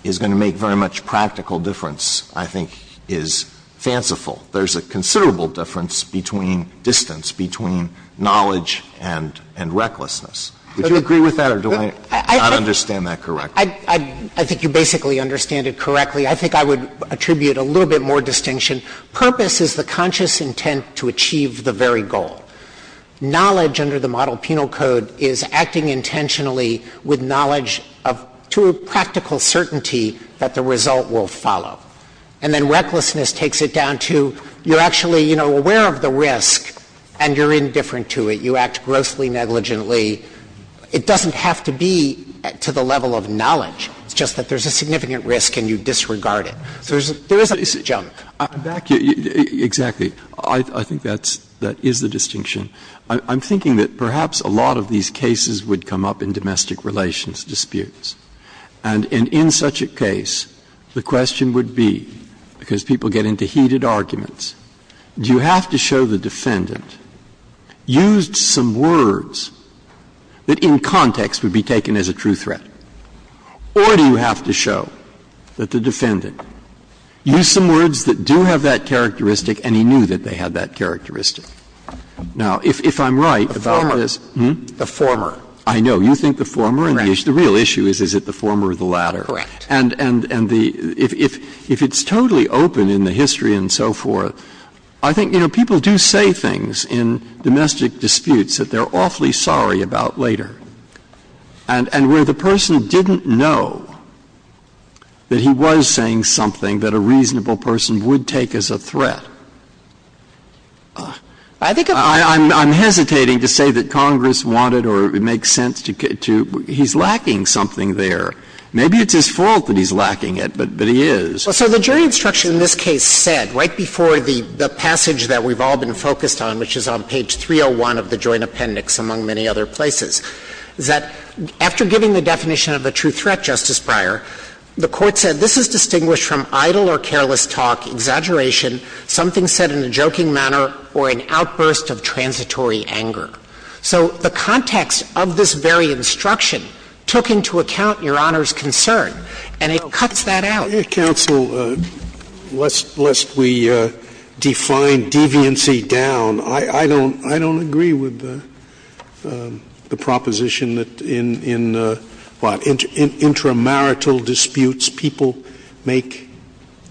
is going to make very much of a practical difference, I think, is fanciful. There's a considerable difference between distance, between knowledge and recklessness. Would you agree with that, or do I not understand that correctly? I think you basically understand it correctly. I think I would attribute a little bit more distinction. Purpose is the conscious intent to achieve the very goal. Knowledge under the Model Penal Code is acting intentionally with knowledge of, to a practical certainty that the result will follow. And then recklessness takes it down to you're actually, you know, aware of the risk and you're indifferent to it. You act grossly negligently. It doesn't have to be to the level of knowledge. It's just that there's a significant risk and you disregard it. So there is a disjunct. I'm back. Exactly. I think that's the distinction. I'm thinking that perhaps a lot of these cases would come up in domestic relations, domestic disputes. And in such a case, the question would be, because people get into heated arguments, do you have to show the defendant used some words that, in context, would be taken as a true threat, or do you have to show that the defendant used some words that do have that characteristic and he knew that they had that characteristic? Now, if I'm right about this the former, I know you think the former, and the issue is, is it the former or the latter? Correct. And the — if it's totally open in the history and so forth, I think, you know, people do say things in domestic disputes that they're awfully sorry about later, and where the person didn't know that he was saying something that a reasonable person would take as a threat. I think I'm hesitating to say that Congress wanted or it makes sense to — he's lacking something there. Maybe it's his fault that he's lacking it, but he is. So the jury instruction in this case said, right before the passage that we've all been focused on, which is on page 301 of the Joint Appendix, among many other places, is that after giving the definition of a true threat, Justice Breyer, the Court said this is distinguished from idle or careless talk, exaggeration, something said in a joking manner, or an outburst of transitory anger. So the context of this very instruction took into account Your Honor's concern, and it cuts that out. Scalia, counsel, lest we define deviancy down, I don't — I don't agree with the proposition that in — in, what, in intramarital disputes, people make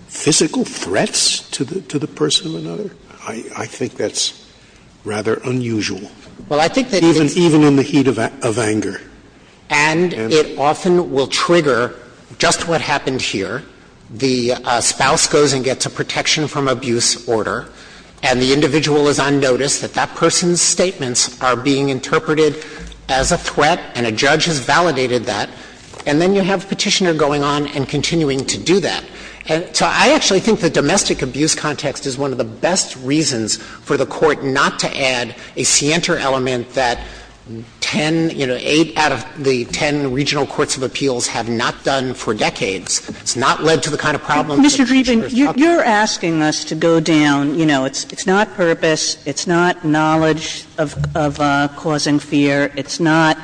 physical threats to the person of another? I think that's rather unusual. Well, I think that it's — Even — even in the heat of anger. And it often will trigger just what happened here. The spouse goes and gets a protection from abuse order, and the individual is on notice that that person's statements are being interpreted as a threat, and a judge has validated that, and then you have Petitioner going on and continuing to do that. So I actually think the domestic abuse context is one of the best reasons for the inter-element that 10, you know, 8 out of the 10 regional courts of appeals have not done for decades. It's not led to the kind of problem that Petitioner is talking about. Mr. Dreeben, you're asking us to go down, you know, it's not purpose, it's not knowledge of causing fear, it's not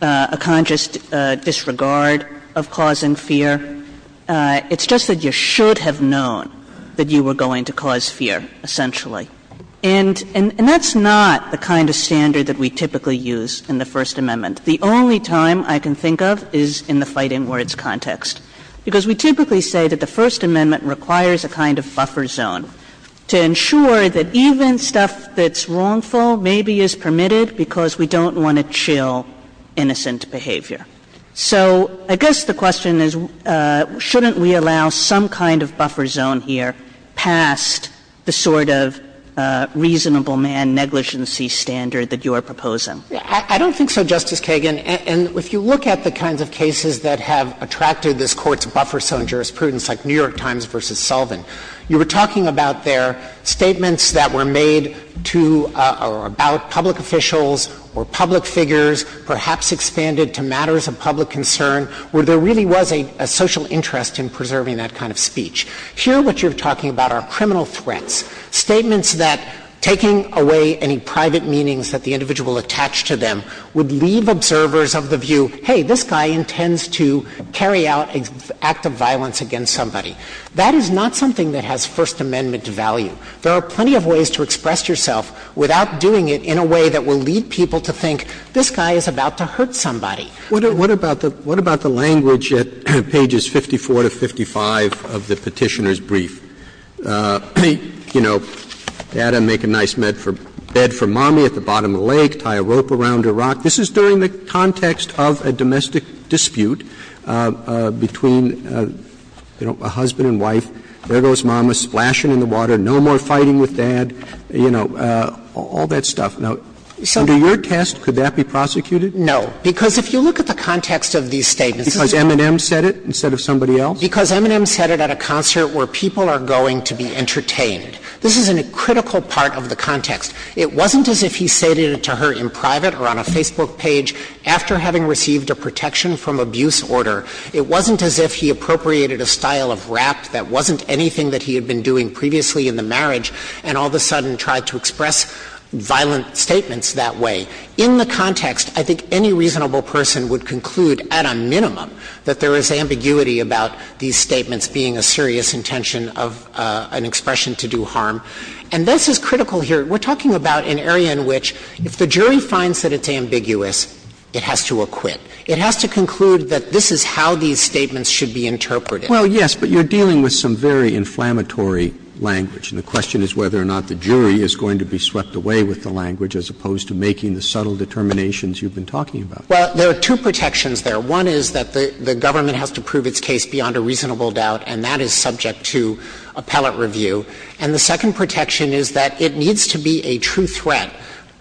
a conscious disregard of causing fear. It's just that you should have known that you were going to cause fear, essentially. And that's not the kind of standard that we typically use in the First Amendment. The only time I can think of is in the fighting words context, because we typically say that the First Amendment requires a kind of buffer zone to ensure that even stuff that's wrongful maybe is permitted because we don't want to chill innocent behavior. So I guess the question is, shouldn't we allow some kind of buffer zone here past the sort of reasonable man negligency standard that you are proposing? I don't think so, Justice Kagan. And if you look at the kinds of cases that have attracted this Court's buffer zone jurisprudence, like New York Times v. Sullivan, you were talking about their statements that were made to or about public officials or public figures, perhaps expanded to matters of public concern, where there really was a social interest in preserving that kind of speech. Here, what you're talking about are criminal threats, statements that taking away any private meanings that the individual attached to them would leave observers of the view, hey, this guy intends to carry out an act of violence against somebody. That is not something that has First Amendment value. There are plenty of ways to express yourself without doing it in a way that will lead people to think this guy is about to hurt somebody. What about the language at pages 54 to 55 of the Petitioner's brief? You know, Adam, make a nice bed for mommy at the bottom of the lake, tie a rope around a rock. This is during the context of a domestic dispute between a husband and wife. There goes mama, splashing in the water, no more fighting with dad, you know, all that stuff. Now, under your test, could that be prosecuted? No, because if you look at the context of these statements. Because M&M said it instead of somebody else? Because M&M said it at a concert where people are going to be entertained. This is a critical part of the context. It wasn't as if he said it to her in private or on a Facebook page after having received a protection from abuse order. It wasn't as if he appropriated a style of rap that wasn't anything that he had been doing previously in the marriage and all of a sudden tried to express violent statements that way. In the context, I think any reasonable person would conclude at a minimum that there is ambiguity about these statements being a serious intention of an expression to do harm. And this is critical here. We're talking about an area in which if the jury finds that it's ambiguous, it has to acquit. It has to conclude that this is how these statements should be interpreted. Well, yes, but you're dealing with some very inflammatory language, and the question is whether or not the jury is going to be swept away with the language as opposed to making the subtle determinations you've been talking about. Well, there are two protections there. One is that the government has to prove its case beyond a reasonable doubt, and that is subject to appellate review. And the second protection is that it needs to be a true threat.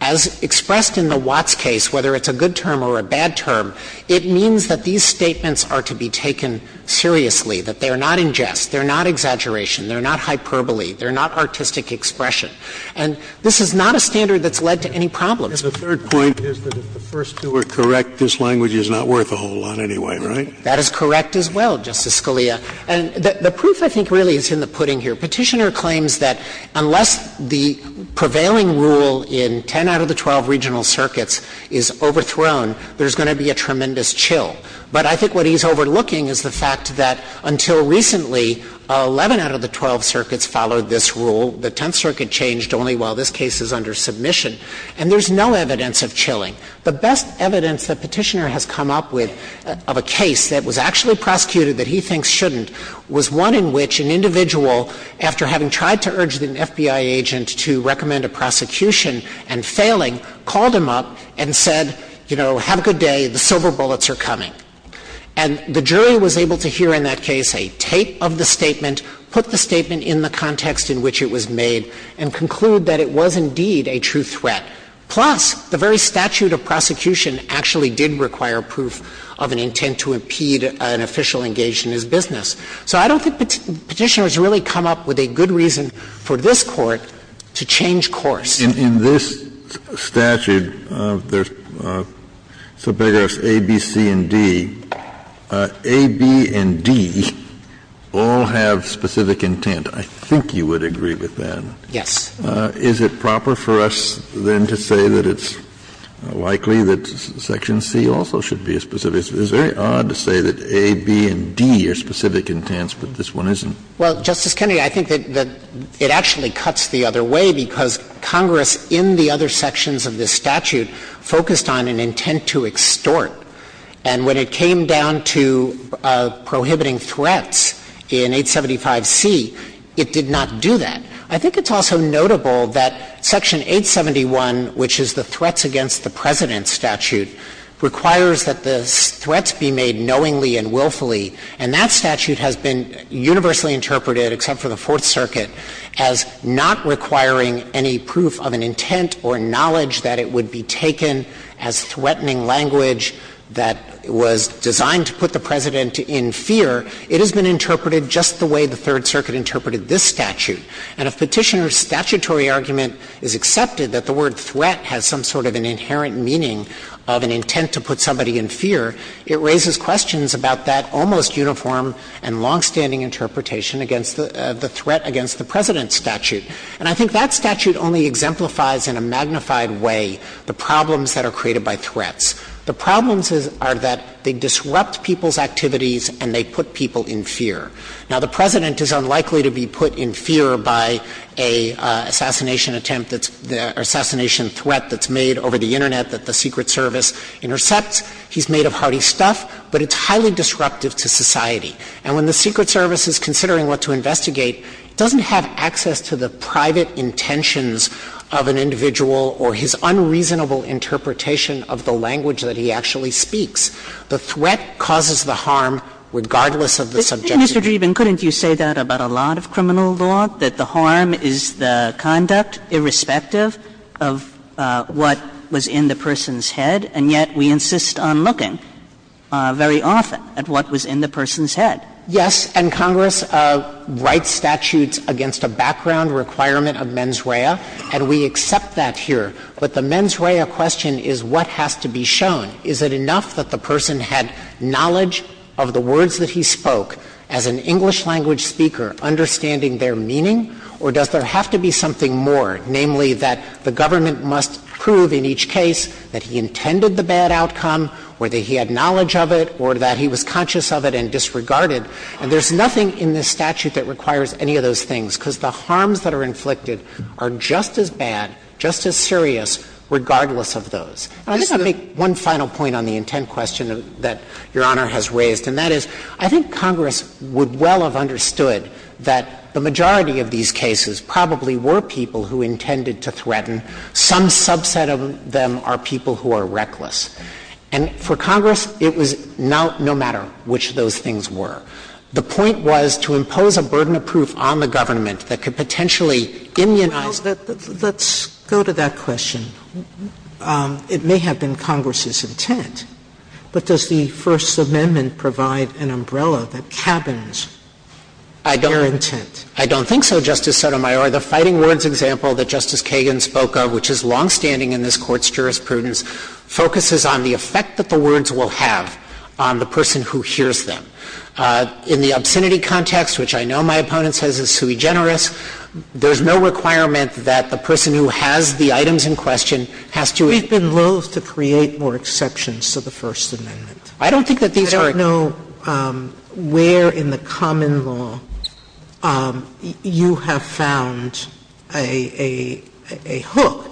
As expressed in the Watts case, whether it's a good term or a bad term, it means that these statements are to be taken seriously, that they are not in jest, they're not exaggeration, they're not hyperbole, they're not artistic expression. And this is not a standard that's led to any problems. The third point is that if the first two are correct, this language is not worth a whole lot anyway, right? That is correct as well, Justice Scalia. And the proof, I think, really is in the pudding here. Petitioner claims that unless the prevailing rule in 10 out of the 12 regional circuits is overthrown, there's going to be a tremendous chill. But I think what he's overlooking is the fact that until recently, 11 out of the 12 circuits followed this rule. The Tenth Circuit changed only while this case is under submission, and there's no evidence of chilling. The best evidence that Petitioner has come up with of a case that was actually prosecuted that he thinks shouldn't was one in which an individual, after having tried to urge an FBI agent to recommend a prosecution and failing, called him up and said, you know, have a good day, the silver bullets are coming. And the jury was able to hear in that case a tape of the statement, put the statement in the context in which it was made, and conclude that it was indeed a true threat. Plus, the very statute of prosecution actually did require proof of an intent to impede an official engaged in his business. So I don't think Petitioner has really come up with a good reason for this Court to change course. Kennedy, in this statute, there's A, B, C, and D. A, B, and D all have specific intent. I think you would agree with that. Yes. Is it proper for us, then, to say that it's likely that Section C also should be specific? It's very odd to say that A, B, and D are specific intents, but this one isn't. Well, Justice Kennedy, I think that it actually cuts the other way because Congress in the other sections of this statute focused on an intent to extort. And when it came down to prohibiting threats in 875C, it did not do that. I think it's also notable that Section 871, which is the threats against the President's statute, requires that the threats be made knowingly and willfully, and that statute has been universally interpreted, except for the Fourth Circuit, as not requiring any proof of an intent or knowledge that it would be taken as threatening language that was designed to put the President in fear. It has been interpreted just the way the Third Circuit interpreted this statute. And if Petitioner's statutory argument is accepted, that the word threat has some sort of an inherent meaning of an intent to put somebody in fear, it raises questions about that almost uniform and longstanding interpretation against the threat against the President's statute. And I think that statute only exemplifies in a magnified way the problems that are The problems are that they disrupt people's activities and they put people in fear. Now, the President is unlikely to be put in fear by a assassination attempt that's — or assassination threat that's made over the Internet that the Secret Service intercepts. He's made of hearty stuff, but it's highly disruptive to society. And when the Secret Service is considering what to investigate, it doesn't have access to the private intentions of an individual or his unreasonable interpretation of the language that he actually speaks. The threat causes the harm regardless of the subjectivity. Kagan, couldn't you say that about a lot of criminal law, that the harm is the conduct irrespective of what was in the person's head, and yet we insist on looking very often at what was in the person's head? Yes. And Congress writes statutes against a background requirement of mens rea, and we accept that here. But the mens rea question is what has to be shown. Is it enough that the person had knowledge of the words that he spoke as an English-language speaker, understanding their meaning, or does there have to be something more, namely, that the government must prove in each case that he intended the bad outcome, or that he had knowledge of it, or that he was conscious of it and disregarded? And there's nothing in this statute that requires any of those things, because the harms that are inflicted are just as bad, just as serious, regardless of those. And I think I'll make one final point on the intent question that Your Honor has raised. And that is, I think Congress would well have understood that the majority of these cases probably were people who intended to threaten. Some subset of them are people who are reckless. And for Congress, it was no matter which of those things were. The point was to impose a burden of proof on the government that could potentially immunize them. Sotomayor, let's go to that question. It may have been Congress's intent, but does the First Amendment provide an umbrella that cabins their intent? I don't think so, Justice Sotomayor. The fighting words example that Justice Kagan spoke of, which is longstanding in this Court's jurisprudence, focuses on the effect that the words will have on the person who hears them. In the obscenity context, which I know my opponent says is sui generis, there's no requirement that the person who has the items in question has to agree. We've been loathe to create more exceptions to the First Amendment. I don't think that these are exceptions. I don't know where in the common law you have found a hook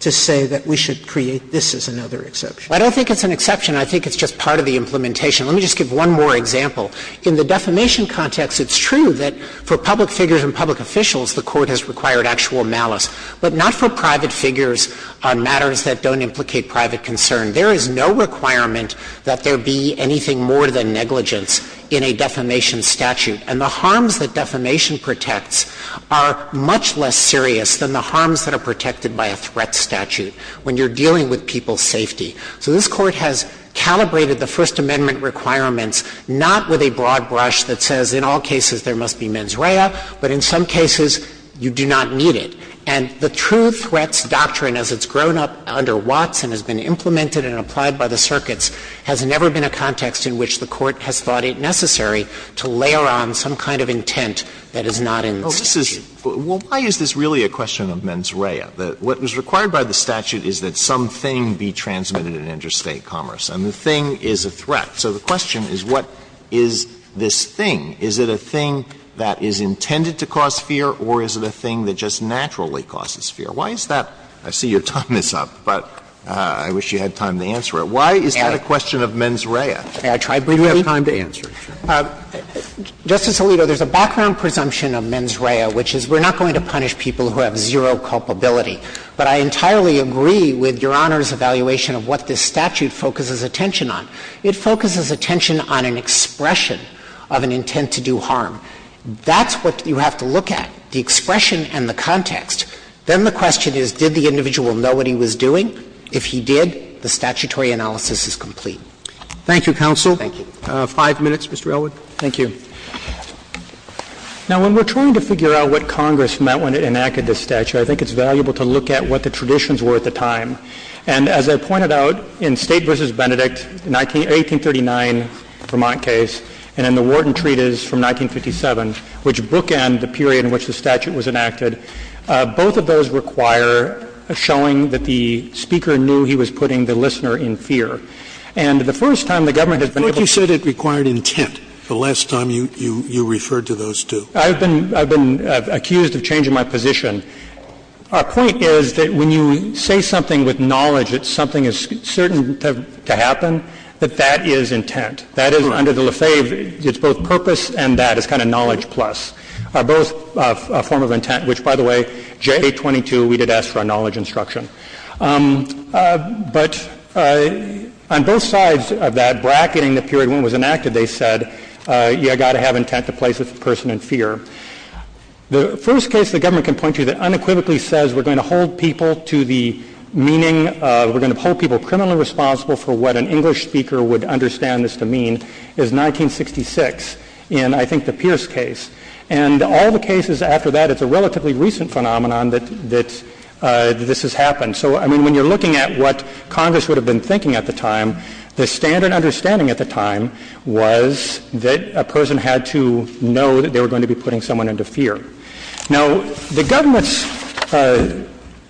to say that we should create this as another exception. I don't think it's an exception. I think it's just part of the implementation. Let me just give one more example. In the defamation context, it's true that for public figures and public officials, the Court has required actual malice, but not for private figures on matters that don't implicate private concern. There is no requirement that there be anything more than negligence in a defamation statute. And the harms that defamation protects are much less serious than the harms that are protected by a threat statute when you're dealing with people's safety. So this Court has calibrated the First Amendment requirements not with a broad brush that says in all cases there must be mens rea, but in some cases you do not need it. And the true threats doctrine, as it's grown up under Watson, has been implemented and applied by the circuits, has never been a context in which the Court has thought it necessary to layer on some kind of intent that is not in the statute. Alitoso, why is this really a question of mens rea? What was required by the statute is that some thing be transmitted in interstate commerce, and the thing is a threat. So the question is what is this thing? Is it a thing that is intended to cause fear, or is it a thing that just naturally causes fear? Why is that? I see your time is up, but I wish you had time to answer it. Why is that a question of mens rea? You have time to answer it. Dreeben. Justice Alito, there's a background presumption of mens rea, which is we're not going to punish people who have zero culpability. But I entirely agree with Your Honor's evaluation of what this statute focuses attention on. It focuses attention on an expression of an intent to do harm. That's what you have to look at, the expression and the context. Then the question is did the individual know what he was doing? If he did, the statutory analysis is complete. Thank you, counsel. Thank you. Five minutes, Mr. Elwood. Thank you. Now, when we're trying to figure out what Congress meant when it enacted this statute, I think it's valuable to look at what the traditions were at the time. And as I pointed out, in State v. Benedict, 1839 Vermont case, and in the Wharton Treatise from 1957, which bookend the period in which the statute was enacted, both of those require showing that the speaker knew he was putting the listener in fear. And the first time the government has been able to do that, it requires intent. The last time you referred to those two. I've been accused of changing my position. Our point is that when you say something with knowledge that something is certain to happen, that that is intent. That is, under the Lefebvre, it's both purpose and that, it's kind of knowledge plus, both a form of intent, which, by the way, J.A. 22, we did ask for a knowledge instruction. But on both sides of that, bracketing the period when it was enacted, they said, you've got to have intent to place the person in fear. The first case the government can point to that unequivocally says we're going to hold people to the meaning of, we're going to hold people criminally responsible for what an English speaker would understand this to mean, is 1966, in, I think, the Pierce case. And all the cases after that, it's a relatively recent phenomenon that this has happened. So, I mean, when you're looking at what Congress would have been thinking at the time, was that a person had to know that they were going to be putting someone into fear. Now, the government's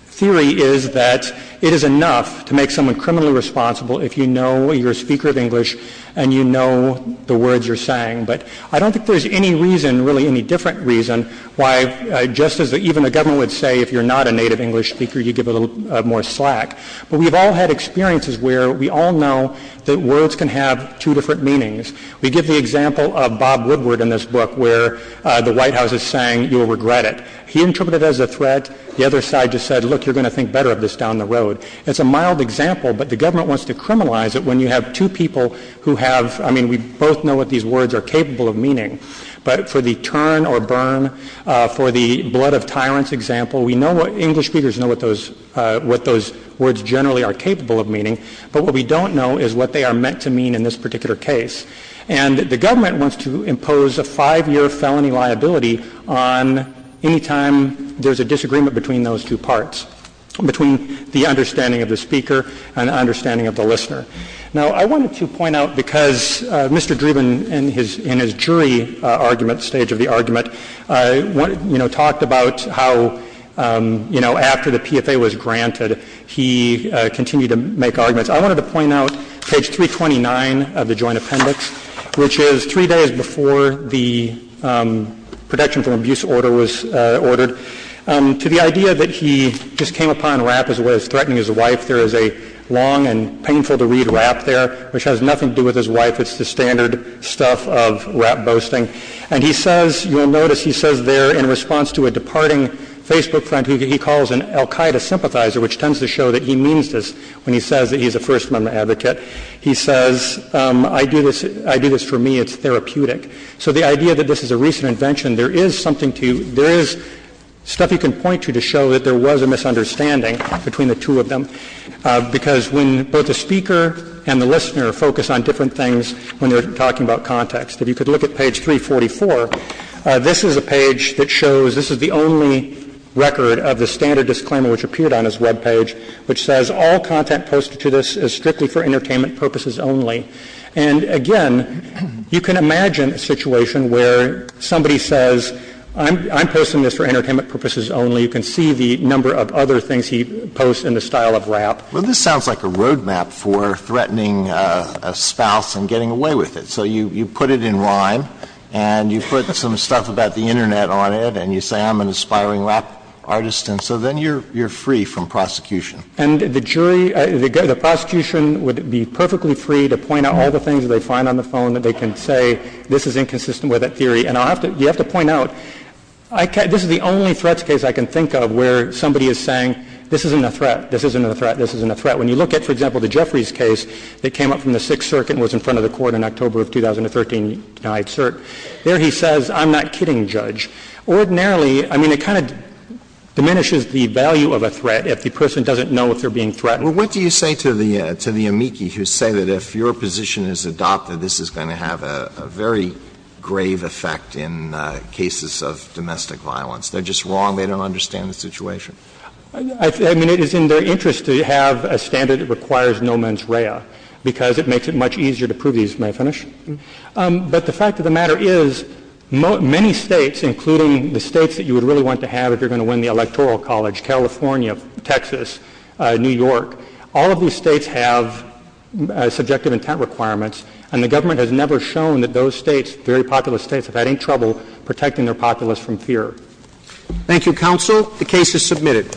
theory is that it is enough to make someone criminally responsible if you know you're a speaker of English and you know the words you're saying. But I don't think there's any reason, really any different reason, why, just as even the government would say, if you're not a native English speaker, you give a little more slack. But we've all had experiences where we all know that words can have two different meanings. We give the example of Bob Woodward in this book, where the White House is saying you'll regret it. He interpreted it as a threat. The other side just said, look, you're going to think better of this down the road. It's a mild example, but the government wants to criminalize it when you have two people who have, I mean, we both know what these words are capable of meaning. But for the turn or burn, for the blood of tyrants example, we know what English speakers know what those, what those words generally are capable of meaning. But what we don't know is what they are meant to mean in this particular case. And the government wants to impose a five-year felony liability on any time there's a disagreement between those two parts, between the understanding of the speaker and the understanding of the listener. Now, I wanted to point out, because Mr. Dreeben in his, in his jury argument, stage of the argument, you know, talked about how, you know, after the PFA was granted, he continued to make arguments. I wanted to point out page 329 of the joint appendix, which is three days before the protection from abuse order was ordered, to the idea that he just came upon rap as a way of threatening his wife. There is a long and painful to read rap there, which has nothing to do with his wife. It's the standard stuff of rap boasting. And he says, you'll notice he says there in response to a departing Facebook friend who he calls an Al-Qaeda sympathizer, which tends to show that he means this when he says that he's a First Amendment advocate. He says, I do this, I do this for me. It's therapeutic. So the idea that this is a recent invention, there is something to, there is stuff you can point to, to show that there was a misunderstanding between the two of them, because when both the speaker and the listener focus on different things when they're talking about context. If you could look at page 344, this is a page that shows, this is the only record of the standard disclaimer which appeared on his webpage, which says, all content posted to this is strictly for entertainment purposes only. And again, you can imagine a situation where somebody says, I'm posting this for entertainment purposes only. You can see the number of other things he posts in the style of rap. Well, this sounds like a roadmap for threatening a spouse and getting away with it. So you put it in rhyme, and you put some stuff about the internet on it, and you say I'm an aspiring rap artist, and so then you're free from prosecution. And the jury, the prosecution would be perfectly free to point out all the things that they find on the phone that they can say, this is inconsistent with that theory. And I'll have to, you have to point out, I can't, this is the only threats case I can think of where somebody is saying, this isn't a threat, this isn't a threat, this isn't a threat. When you look at, for example, the Jeffries case that came up from the Sixth Circuit and was in front of the Court in October of 2013, I'd assert, there he says, I'm not kidding, Judge. Ordinarily, I mean, it kind of diminishes the value of a threat if the person doesn't know if they're being threatened. Alitoso, what do you say to the amici who say that if your position is adopted, this is going to have a very grave effect in cases of domestic violence? They're just wrong, they don't understand the situation. I mean, it is in their interest to have a standard that requires no mens rea because it makes it much easier to prove these, may I finish? But the fact of the matter is, many states, including the states that you would really want to have if you're going to win the electoral college, California, Texas, New York, all of these states have subjective intent requirements, and the government has never shown that those states, very populous states, have had any trouble protecting their populace from fear. Thank you, counsel. The case is submitted.